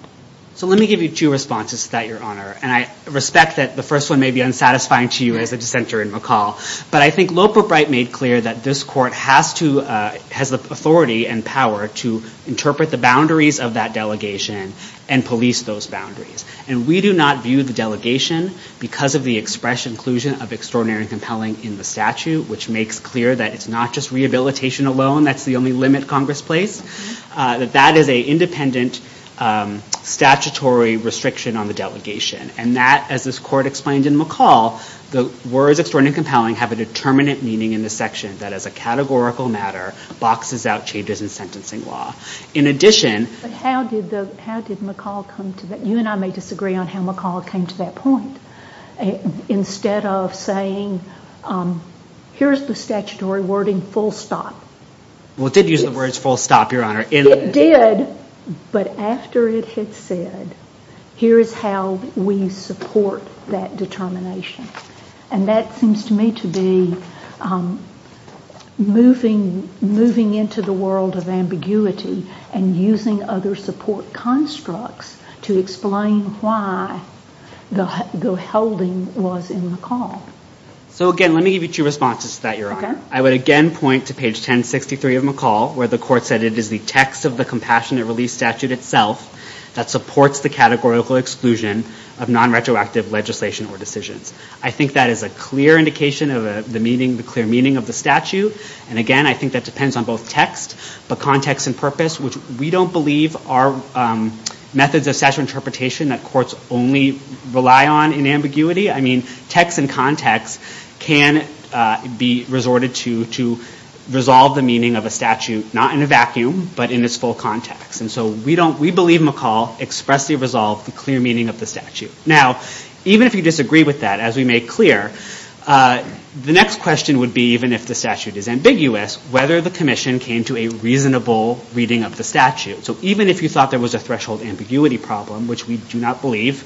So let me give you two responses to that, Your Honor. And I respect that the first one may be unsatisfying to you as a dissenter in McCall, but I think Loper Bright made clear that this court has the authority and power to interpret the boundaries of that delegation and police those boundaries. And we do not view the delegation because of the express inclusion of extraordinary and compelling in the statute, which makes clear that it's not just rehabilitation alone that's the only limit Congress placed, that that is an independent statutory restriction on the delegation. And that, as this court explained in McCall, the words extraordinary and compelling have a determinant meaning in the section that as a categorical matter boxes out changes in sentencing law. In addition... But how did McCall come to that? You and I may disagree on how McCall came to that point. Instead of saying, here's the statutory wording, full stop. Well, it did use the words full stop, Your Honor. It did, but after it had said, here is how we support that determination. And that seems to me to be moving into the world of ambiguity and using other support constructs to explain why the holding was in McCall. So, again, let me give you two responses to that, Your Honor. Okay. I would again point to page 1063 of McCall, where the court said it is the text of the Compassionate Relief Statute itself that supports the categorical exclusion of nonretroactive legislation or decisions. I think that is a clear indication of the meaning, the clear meaning of the statute. And, again, I think that depends on both text, but context and purpose, which we don't believe are methods of statutory interpretation that courts only rely on in ambiguity. I mean, text and context can be resorted to resolve the meaning of a statute, not in a vacuum, but in its full context. And so we believe McCall expressly resolved the clear meaning of the statute. Now, even if you disagree with that, as we make clear, the next question would be, even if the statute is ambiguous, whether the commission came to a reasonable reading of the statute. So even if you thought there was a threshold ambiguity problem, which we do not believe,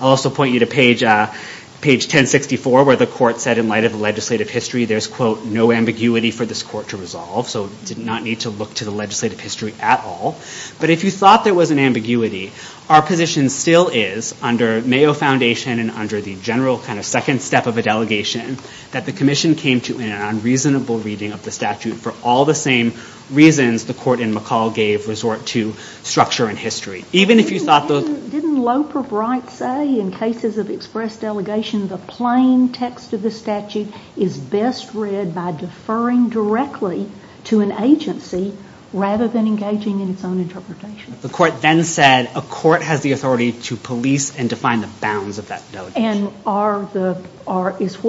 I'll also point you to page 1064, where the court said in light of the legislative history, there's, quote, no ambiguity for this court to resolve, so did not need to look to the legislative history at all. But if you thought there was an ambiguity, our position still is under Mayo Foundation and under the general kind of second step of a delegation, that the commission came to an unreasonable reading of the statute for all the same reasons the court in McCall gave resort to structure and history. Even if you thought those... Didn't Loper Bright say in cases of express delegation, the plain text of the statute is best read by deferring directly to an agency rather than engaging in its own interpretation? The court then said a court has the authority to police and to find the bounds of that delegation. And is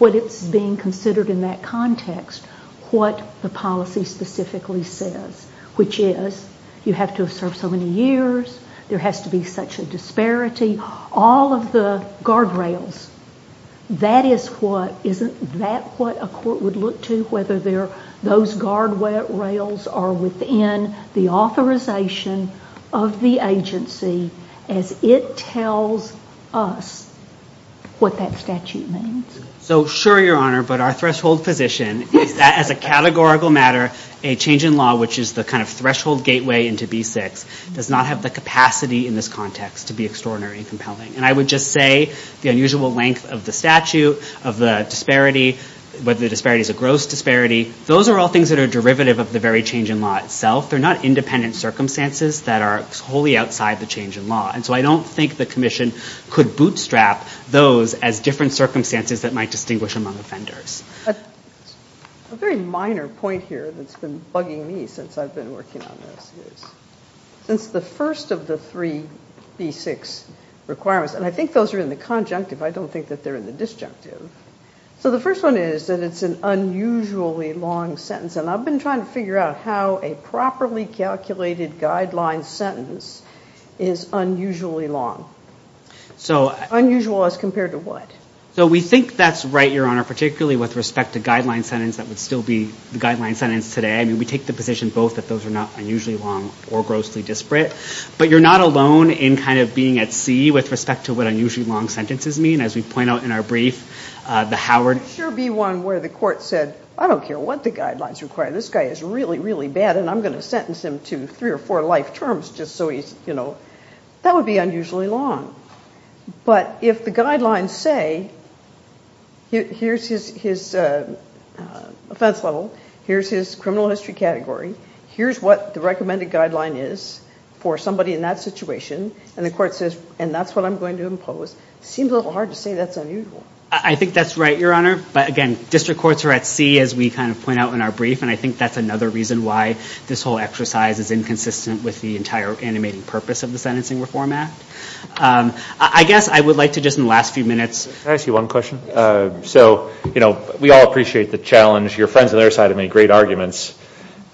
what it's being considered in that context what the policy specifically says, which is you have to have served so many years, there has to be such a disparity, all of the guardrails. Isn't that what a court would look to, whether those guardrails are within the authorization of the agency as it tells us what that statute means? So sure, Your Honor, but our threshold position is that as a categorical matter, a change in law, which is the kind of threshold gateway into B6, does not have the capacity in this context to be extraordinary and compelling. And I would just say the unusual length of the statute, of the disparity, whether the disparity is a gross disparity, those are all things that are derivative of the very change in law itself. They're not independent circumstances that are wholly outside the change in law. And so I don't think the commission could bootstrap those as different circumstances that might distinguish among offenders. But a very minor point here that's been bugging me since I've been working on this is since the first of the three B6 requirements, and I think those are in the conjunctive. I don't think that they're in the disjunctive. So the first one is that it's an unusually long sentence. And I've been trying to figure out how a properly calculated guideline sentence is unusually long. Unusual as compared to what? So we think that's right, Your Honor, particularly with respect to the guideline sentence that would still be the guideline sentence today. I mean, we take the position both that those are not unusually long or grossly disparate. But you're not alone in kind of being at sea with respect to what unusually long sentences mean. As we point out in our brief, the Howard. There would sure be one where the court said, I don't care what the guidelines require. This guy is really, really bad, and I'm going to sentence him to three or four life terms just so he's, you know. That would be unusually long. But if the guidelines say, here's his offense level. Here's his criminal history category. Here's what the recommended guideline is for somebody in that situation. And the court says, and that's what I'm going to impose. Seems a little hard to say that's unusual. I think that's right, Your Honor. But again, district courts are at sea, as we kind of point out in our brief. And I think that's another reason why this whole exercise is inconsistent with the entire animating purpose of the Sentencing Reform Act. I guess I would like to just in the last few minutes. Can I ask you one question? Yes. So, you know, we all appreciate the challenge. Your friends on the other side have made great arguments.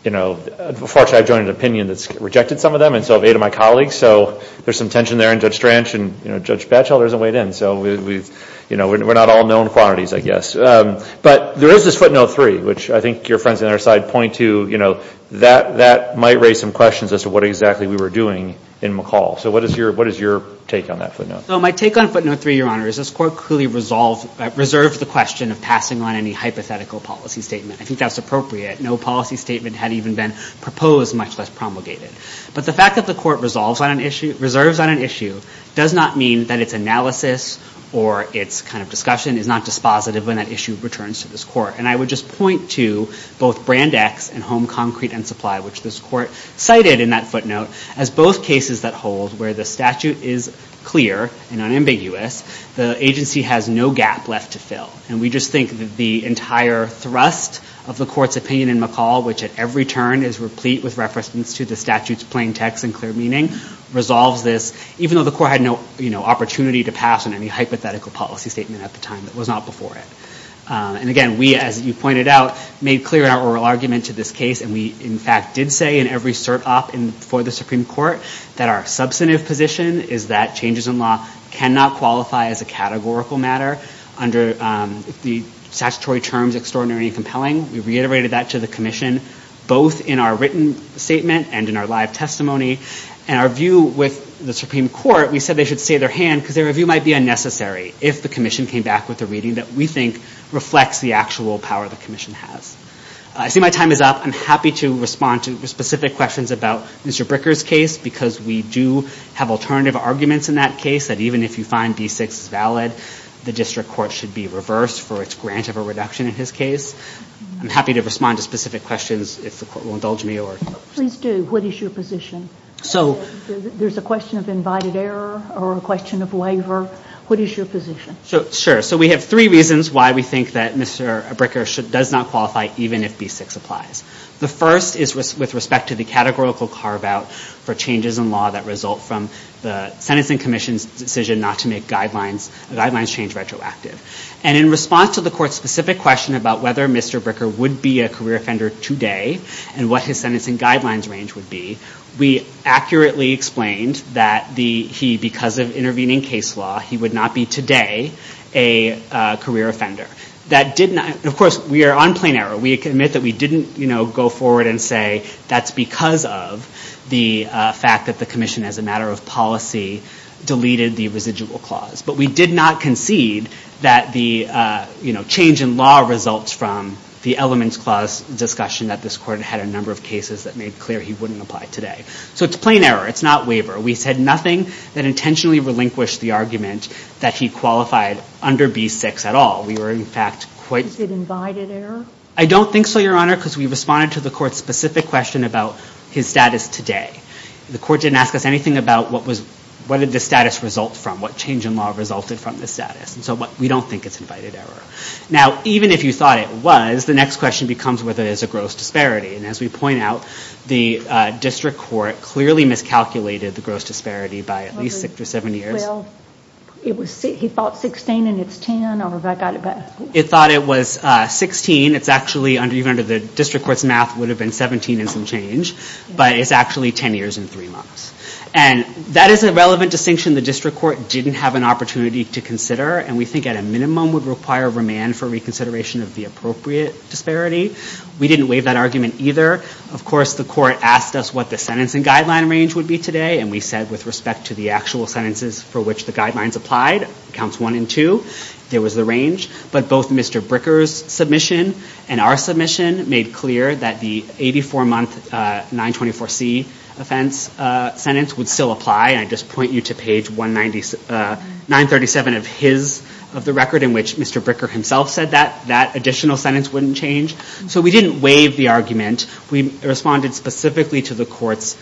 You know, fortunately, I've joined an opinion that's rejected some of them. And so have eight of my colleagues. So there's some tension there in Judge Stranch. And, you know, Judge Batchelder isn't weighed in. So, you know, we're not all known quantities, I guess. But there is this footnote three, which I think your friends on our side point to. You know, that might raise some questions as to what exactly we were doing in McCall. So what is your take on that footnote? So my take on footnote three, Your Honor, is this court clearly reserved the question of passing on any hypothetical policy statement. I think that's appropriate. No policy statement had even been proposed, much less promulgated. But the fact that the court reserves on an issue does not mean that its analysis or its kind of discussion is not dispositive when that issue returns to this court. And I would just point to both Brand X and Home Concrete and Supply, which this court cited in that footnote as both cases that hold where the statute is clear and unambiguous. The agency has no gap left to fill. And we just think that the entire thrust of the court's opinion in McCall, which at every turn is replete with reference to the statute's plain text and clear meaning, resolves this, even though the court had no opportunity to pass on any hypothetical policy statement at the time. It was not before it. And again, we, as you pointed out, made clear in our oral argument to this case, and we in fact did say in every cert op for the Supreme Court, that our substantive position is that changes in law cannot qualify as a categorical matter under the statutory terms extraordinary and compelling. We reiterated that to the commission both in our written statement and in our live testimony. And our view with the Supreme Court, we said they should stay their hand because their review might be unnecessary if the commission came back with a reading that we think reflects the actual power the commission has. I see my time is up. I'm happy to respond to specific questions about Mr. Bricker's case because we do have alternative arguments in that case that even if you find B-6 is valid, the district court should be reversed for its grant of a reduction in his case. I'm happy to respond to specific questions if the court will indulge me. Please do. What is your position? There's a question of invited error or a question of waiver. What is your position? Sure. So we have three reasons why we think that Mr. Bricker does not qualify even if B-6 applies. The first is with respect to the categorical carve-out for changes in law that result from the sentencing commission's decision not to make guidelines change retroactive. And in response to the court's specific question about whether Mr. Bricker would be a career offender today and what his sentencing guidelines range would be, we accurately explained that he, because of intervening case law, he would not be today a career offender. Of course, we are on plain error. We admit that we didn't go forward and say that's because of the fact that the commission, as a matter of policy, deleted the residual clause. But we did not concede that the change in law results from the elements clause discussion that this court had a number of cases that made clear he wouldn't apply today. So it's plain error. It's not waiver. We said nothing that intentionally relinquished the argument that he qualified under B-6 at all. We were, in fact, quite... Is it invited error? I don't think so, Your Honor, because we responded to the court's specific question about his status today. The court didn't ask us anything about what did the status result from, what change in law resulted from the status. So we don't think it's invited error. Now, even if you thought it was, the next question becomes whether there's a gross disparity. And as we point out, the district court clearly miscalculated the gross disparity by at least six or seven years. Well, he thought 16 and it's 10, or have I got it back? It thought it was 16. It's actually, even under the district court's math, would have been 17 and some change. But it's actually 10 years and three months. And that is a relevant distinction the district court didn't have an opportunity to consider, and we think at a minimum would require remand for reconsideration of the appropriate disparity. We didn't waive that argument either. Of course, the court asked us what the sentencing guideline range would be today, and we said with respect to the actual sentences for which the guidelines applied, counts one and two, there was the range. But both Mr. Bricker's submission and our submission made clear that the 84-month 924C offense sentence would still apply, and I just point you to page 937 of the record in which Mr. Bricker himself said that, that additional sentence wouldn't change. So we didn't waive the argument. We responded specifically to the court's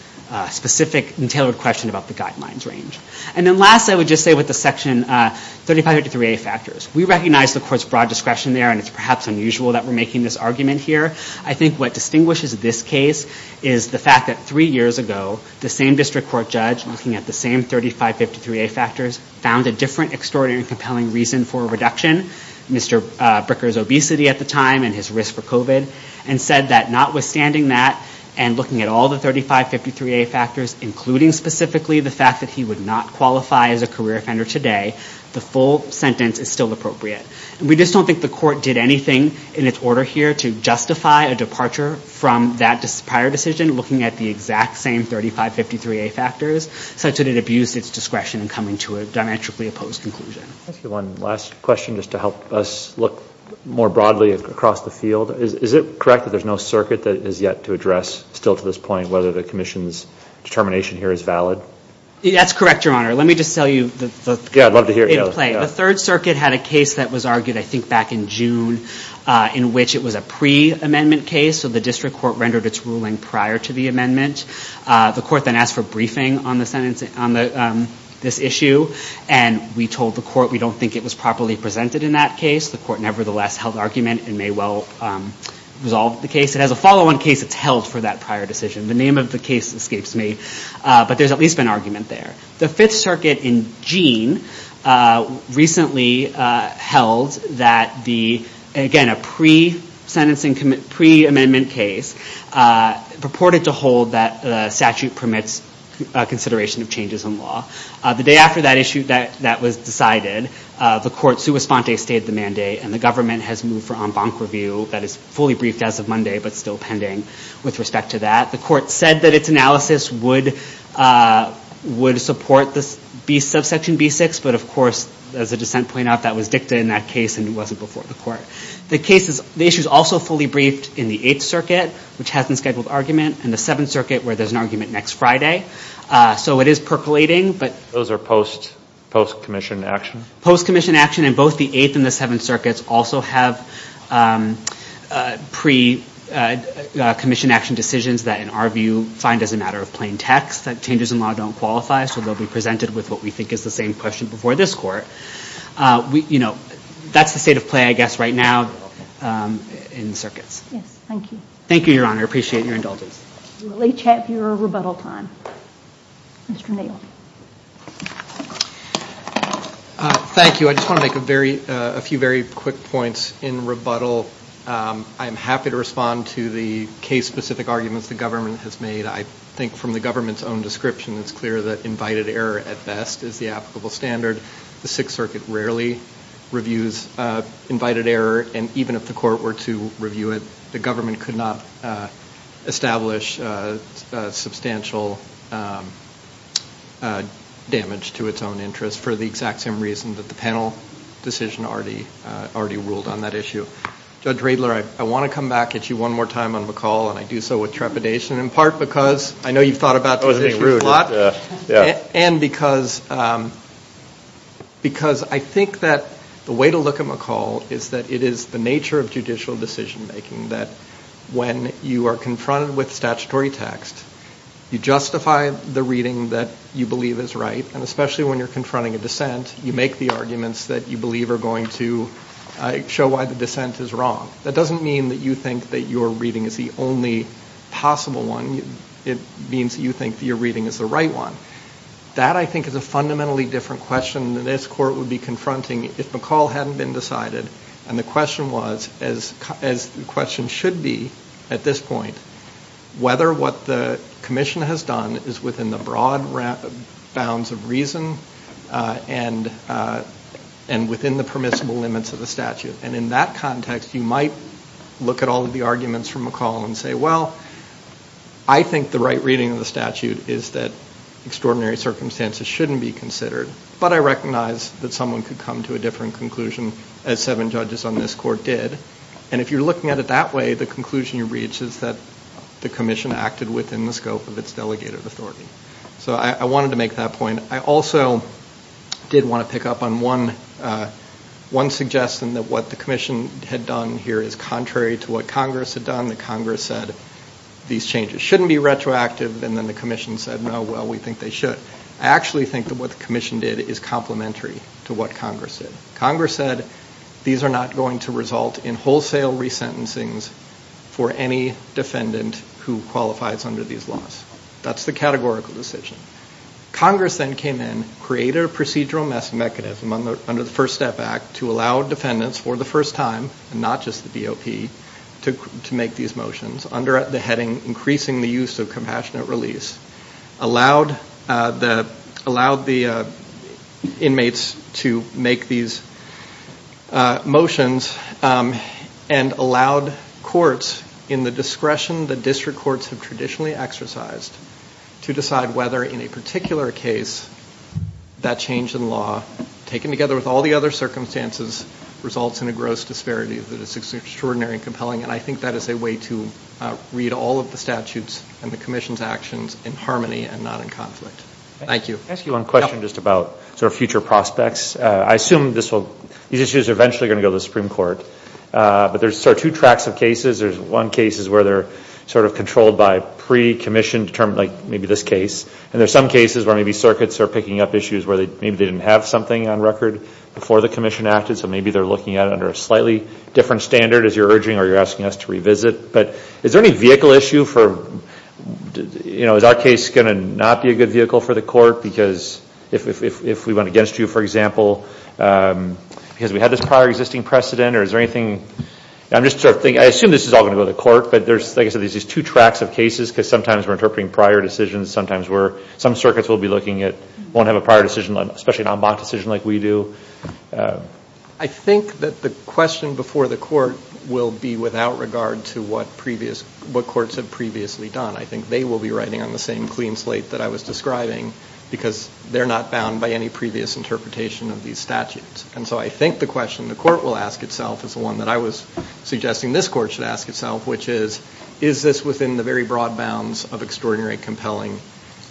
specific and tailored question about the guidelines range. And then last, I would just say with the Section 3553A factors, we recognize the court's broad discretion there, and it's perhaps unusual that we're making this argument here. I think what distinguishes this case is the fact that three years ago, the same district court judge looking at the same 3553A factors found a different extraordinary compelling reason for a reduction, Mr. Bricker's obesity at the time and his risk for COVID, and said that notwithstanding that and looking at all the 3553A factors, including specifically the fact that he would not qualify as a career offender today, the full sentence is still appropriate. And we just don't think the court did anything in its order here to justify a departure from that prior decision, looking at the exact same 3553A factors, such that it abused its discretion in coming to a diametrically opposed conclusion. I'll ask you one last question just to help us look more broadly across the field. Is it correct that there's no circuit that is yet to address still to this point whether the commission's determination here is valid? That's correct, Your Honor. Let me just tell you. Yeah, I'd love to hear it. The Third Circuit had a case that was argued, I think, back in June, in which it was a pre-amendment case. So the district court rendered its ruling prior to the amendment. The court then asked for briefing on this issue. And we told the court we don't think it was properly presented in that case. The court nevertheless held argument and may well resolve the case. It has a follow-on case that's held for that prior decision. The name of the case escapes me. But there's at least been argument there. The Fifth Circuit in Jeanne recently held that the, again, a pre-sentencing, pre-amendment case, purported to hold that the statute permits consideration of changes in law. The day after that issue, that was decided, the court sua sponte stayed the mandate, and the government has moved for en banc review that is fully briefed as of Monday but still pending with respect to that. The court said that its analysis would support the subsection B6, but of course, as the dissent pointed out, that was dicta in that case and it wasn't before the court. The issue is also fully briefed in the Eighth Circuit, which has unscheduled argument, and the Seventh Circuit, where there's an argument next Friday. So it is percolating. Those are post-commissioned action? Post-commissioned action in both the Eighth and the Seventh Circuits also have pre-commissioned action decisions that in our view find as a matter of plain text that changes in law don't qualify, so they'll be presented with what we think is the same question before this court. You know, that's the state of play, I guess, right now in the circuits. Yes, thank you. Thank you, Your Honor. I appreciate your indulgence. We'll each have your rebuttal time. Mr. Neal. Thank you. I just want to make a few very quick points in rebuttal. I'm happy to respond to the case-specific arguments the government has made. I think from the government's own description, it's clear that invited error at best is the applicable standard. The Sixth Circuit rarely reviews invited error, and even if the court were to review it, the government could not establish substantial damage to its own interest for the exact same reason that the panel decision already ruled on that issue. Judge Riedler, I want to come back at you one more time on McCall, and I do so with trepidation in part because I know you've thought about this issue a lot. And because I think that the way to look at McCall is that it is the nature of judicial decision-making that when you are confronted with statutory text, you justify the reading that you believe is right, and especially when you're confronting a dissent, you make the arguments that you believe are going to show why the dissent is wrong. That doesn't mean that you think that your reading is the only possible one. It means that you think that your reading is the right one. That, I think, is a fundamentally different question that this court would be confronting if McCall hadn't been decided. And the question was, as the question should be at this point, whether what the commission has done is within the broad bounds of reason and within the permissible limits of the statute. And in that context, you might look at all of the arguments from McCall and say, well, I think the right reading of the statute is that extraordinary circumstances shouldn't be considered, but I recognize that someone could come to a different conclusion as seven judges on this court did. And if you're looking at it that way, the conclusion you reach is that the commission acted within the scope of its delegated authority. So I wanted to make that point. I also did want to pick up on one suggestion that what the commission had done here is contrary to what Congress had done. Congress said these changes shouldn't be retroactive, and then the commission said, no, well, we think they should. I actually think that what the commission did is complementary to what Congress did. Congress said these are not going to result in wholesale resentencings for any defendant who qualifies under these laws. That's the categorical decision. Congress then came in, created a procedural mechanism under the First Step Act to allow defendants for the first time, and not just the DOP, to make these motions under the heading increasing the use of compassionate release, allowed the inmates to make these motions, and allowed courts in the discretion that district courts have traditionally exercised to decide whether in a particular case that change in law, taken together with all the other circumstances, results in a gross disparity that is extraordinary and compelling. And I think that is a way to read all of the statutes and the commission's actions in harmony and not in conflict. Thank you. Can I ask you one question just about sort of future prospects? I assume these issues are eventually going to go to the Supreme Court, but there are two tracks of cases. There's one case where they're sort of controlled by pre-commission, determined like maybe this case, and there's some cases where maybe circuits are picking up issues where maybe they didn't have something on record before the commission acted, so maybe they're looking at it under a slightly different standard, as you're urging or you're asking us to revisit. But is there any vehicle issue for, you know, is our case going to not be a good vehicle for the court, because if we went against you, for example, because we had this prior existing precedent, or is there anything? I'm just sort of thinking, I assume this is all going to go to the court, but there's, like I said, there's these two tracks of cases because sometimes we're interpreting prior decisions. Sometimes we're, some circuits we'll be looking at won't have a prior decision, especially an en banc decision like we do. I think that the question before the court will be without regard to what previous, what courts have previously done. I think they will be writing on the same clean slate that I was describing because they're not bound by any previous interpretation of these statutes. And so I think the question the court will ask itself is the one that I was suggesting this court should ask itself, which is, is this within the very broad bounds of extraordinary and compelling?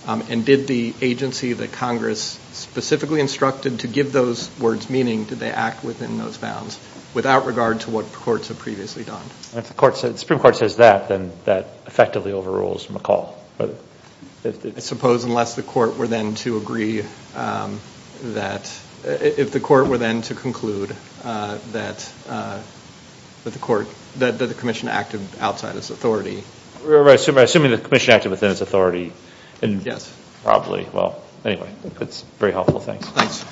And did the agency that Congress specifically instructed to give those words meaning, did they act within those bounds without regard to what courts have previously done? If the Supreme Court says that, then that effectively overrules McCall. I suppose unless the court were then to agree that, if the court were then to conclude that the commission acted outside its authority. We're assuming the commission acted within its authority. Yes. Probably. Well, anyway, that's very helpful. Thanks. Thanks.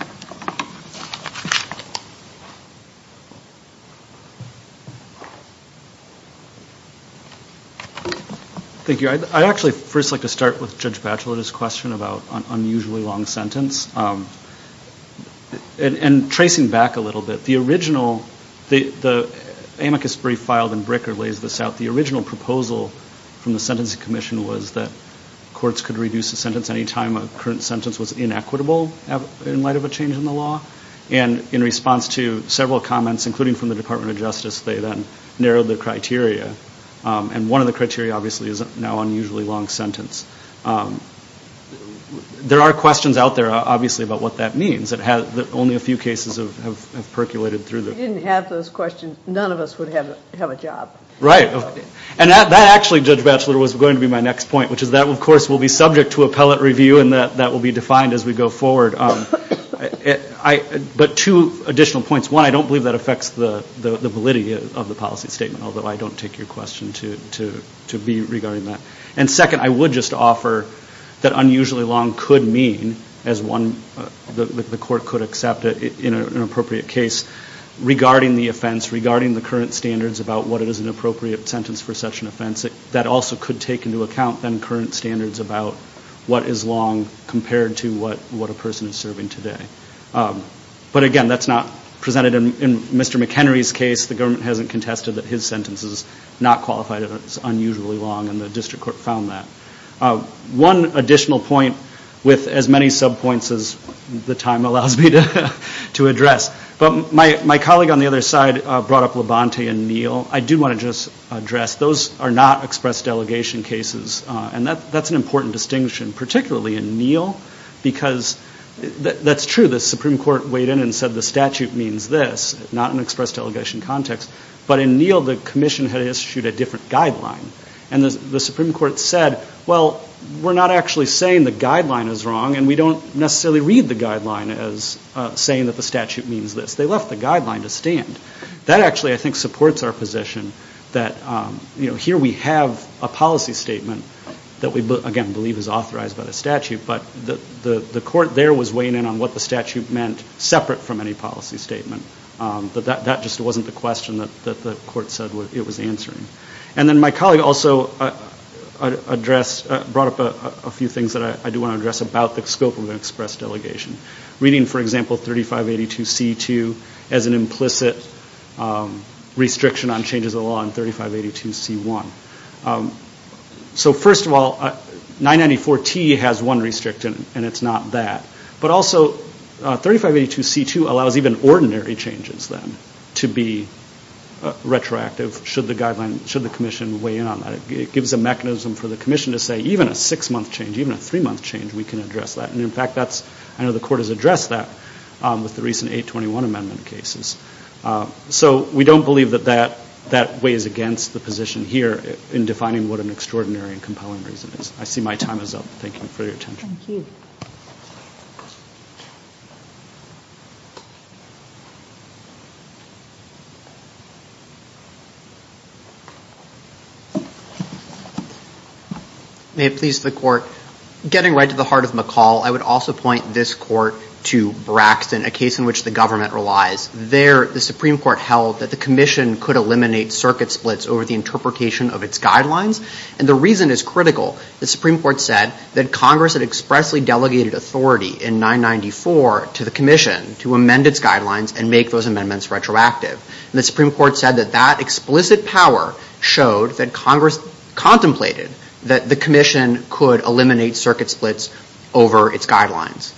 Thank you. I'd actually first like to start with Judge Bachelet's question about an unusually long sentence. And tracing back a little bit, the original, the amicus brief filed in Bricker lays this out. The original proposal from the Sentencing Commission was that courts could reduce the sentence any time a current sentence was inequitable in light of a change in the law. And in response to several comments, including from the Department of Justice, they then narrowed the criteria. And one of the criteria, obviously, is now unusually long sentence. There are questions out there, obviously, about what that means. Only a few cases have percolated through. If we didn't have those questions, none of us would have a job. And that actually, Judge Bachelet, was going to be my next point, which is that, of course, will be subject to appellate review, and that will be defined as we go forward. But two additional points. One, I don't believe that affects the validity of the policy statement, although I don't take your question to be regarding that. And second, I would just offer that unusually long could mean, as one, the court could accept it in an appropriate case, regarding the offense, regarding the current standards about what it is an appropriate sentence for such an offense, that also could take into account then current standards about what is long compared to what a person is serving today. But again, that's not presented in Mr. McHenry's case. The government hasn't contested that his sentence is not qualified and it's unusually long, and the district court found that. One additional point with as many subpoints as the time allows me to address. But my colleague on the other side brought up Labonte and Neal. I do want to just address. Those are not express delegation cases, and that's an important distinction, particularly in Neal, because that's true. The Supreme Court weighed in and said the statute means this, not in express delegation context. But in Neal, the commission had issued a different guideline, and the Supreme Court said, well, we're not actually saying the guideline is wrong, and we don't necessarily read the guideline as saying that the statute means this. They left the guideline to stand. That actually, I think, supports our position that here we have a policy statement that we, again, believe is authorized by the statute, but the court there was weighing in on what the statute meant separate from any policy statement. That just wasn't the question that the court said it was answering. And then my colleague also brought up a few things that I do want to address about the scope of an express delegation. Reading, for example, 3582C2 as an implicit restriction on changes of law in 3582C1. So, first of all, 994T has one restriction, and it's not that. But also, 3582C2 allows even ordinary changes, then, to be retroactive, should the commission weigh in on that. It gives a mechanism for the commission to say even a six-month change, even a three-month change, we can address that. And, in fact, I know the court has addressed that with the recent 821 amendment cases. So we don't believe that that weighs against the position here in defining what an extraordinary and compelling reason is. I see my time is up. Thank you for your attention. Thank you. May it please the Court. Getting right to the heart of McCall, I would also point this court to Braxton, a case in which the government relies. There, the Supreme Court held that the commission could eliminate circuit splits over the interpretation of its guidelines. And the reason is critical. The Supreme Court said that Congress had expressly delegated authority in 994 to the commission to amend its guidelines and make those amendments retroactive. And the Supreme Court said that that explicit power showed that Congress contemplated that the commission could eliminate circuit splits over its guidelines.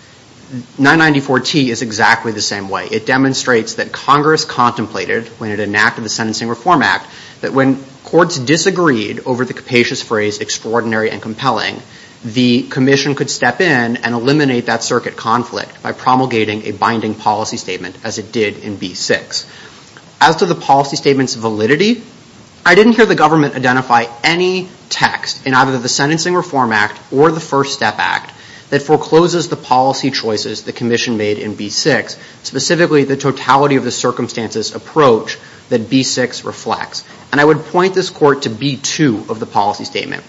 994T is exactly the same way. It demonstrates that Congress contemplated when it enacted the Sentencing Reform Act that when courts disagreed over the capacious phrase extraordinary and compelling, the commission could step in and eliminate that circuit conflict by promulgating a binding policy statement as it did in B6. As to the policy statement's validity, I didn't hear the government identify any text in either the Sentencing Reform Act or the First Step Act that forecloses the policy choices the commission made in B6, specifically the totality of the circumstances approach that B6 reflects. And I would point this court to B2 of the policy statement,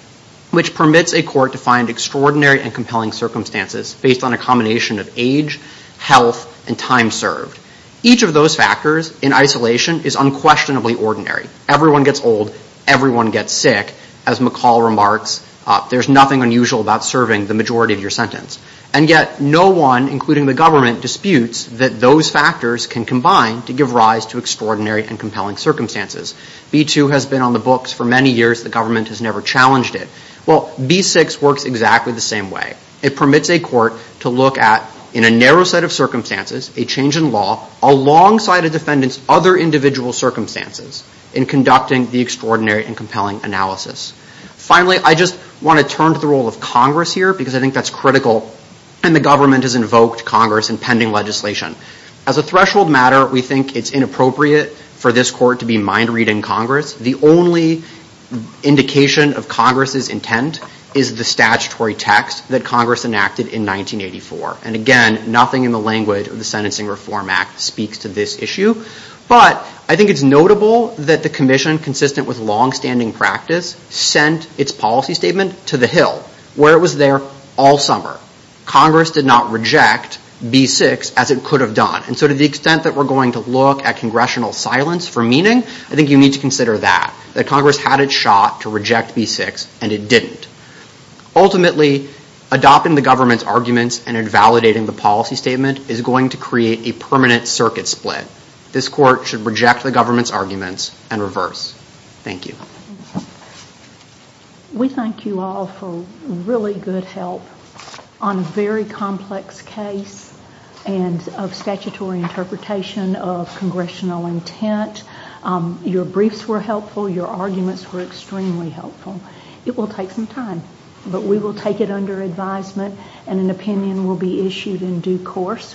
which permits a court to find extraordinary and compelling circumstances based on a combination of age, health, and time served. Each of those factors in isolation is unquestionably ordinary. Everyone gets old. Everyone gets sick. As McCall remarks, there's nothing unusual about serving the majority of your sentence. And yet no one, including the government, disputes that those factors can combine to give rise to extraordinary and compelling circumstances. B2 has been on the books for many years. The government has never challenged it. Well, B6 works exactly the same way. It permits a court to look at, in a narrow set of circumstances, a change in law alongside a defendant's other individual circumstances in conducting the extraordinary and compelling analysis. Finally, I just want to turn to the role of Congress here, because I think that's critical. And the government has invoked Congress in pending legislation. As a threshold matter, we think it's inappropriate for this court to be mind-reading Congress. The only indication of Congress's intent is the statutory text that Congress enacted in 1984. And again, nothing in the language of the Sentencing Reform Act speaks to this issue. But I think it's notable that the commission, consistent with longstanding practice, sent its policy statement to the Hill, where it was there all summer. Congress did not reject B6 as it could have done. And so to the extent that we're going to look at congressional silence for meaning, I think you need to consider that, that Congress had its shot to reject B6, and it didn't. Ultimately, adopting the government's arguments and invalidating the policy statement is going to create a permanent circuit split. This court should reject the government's arguments and reverse. Thank you. We thank you all for really good help on a very complex case and of statutory interpretation of congressional intent. Your briefs were helpful. Your arguments were extremely helpful. It will take some time, but we will take it under advisement, and an opinion will be issued in due course.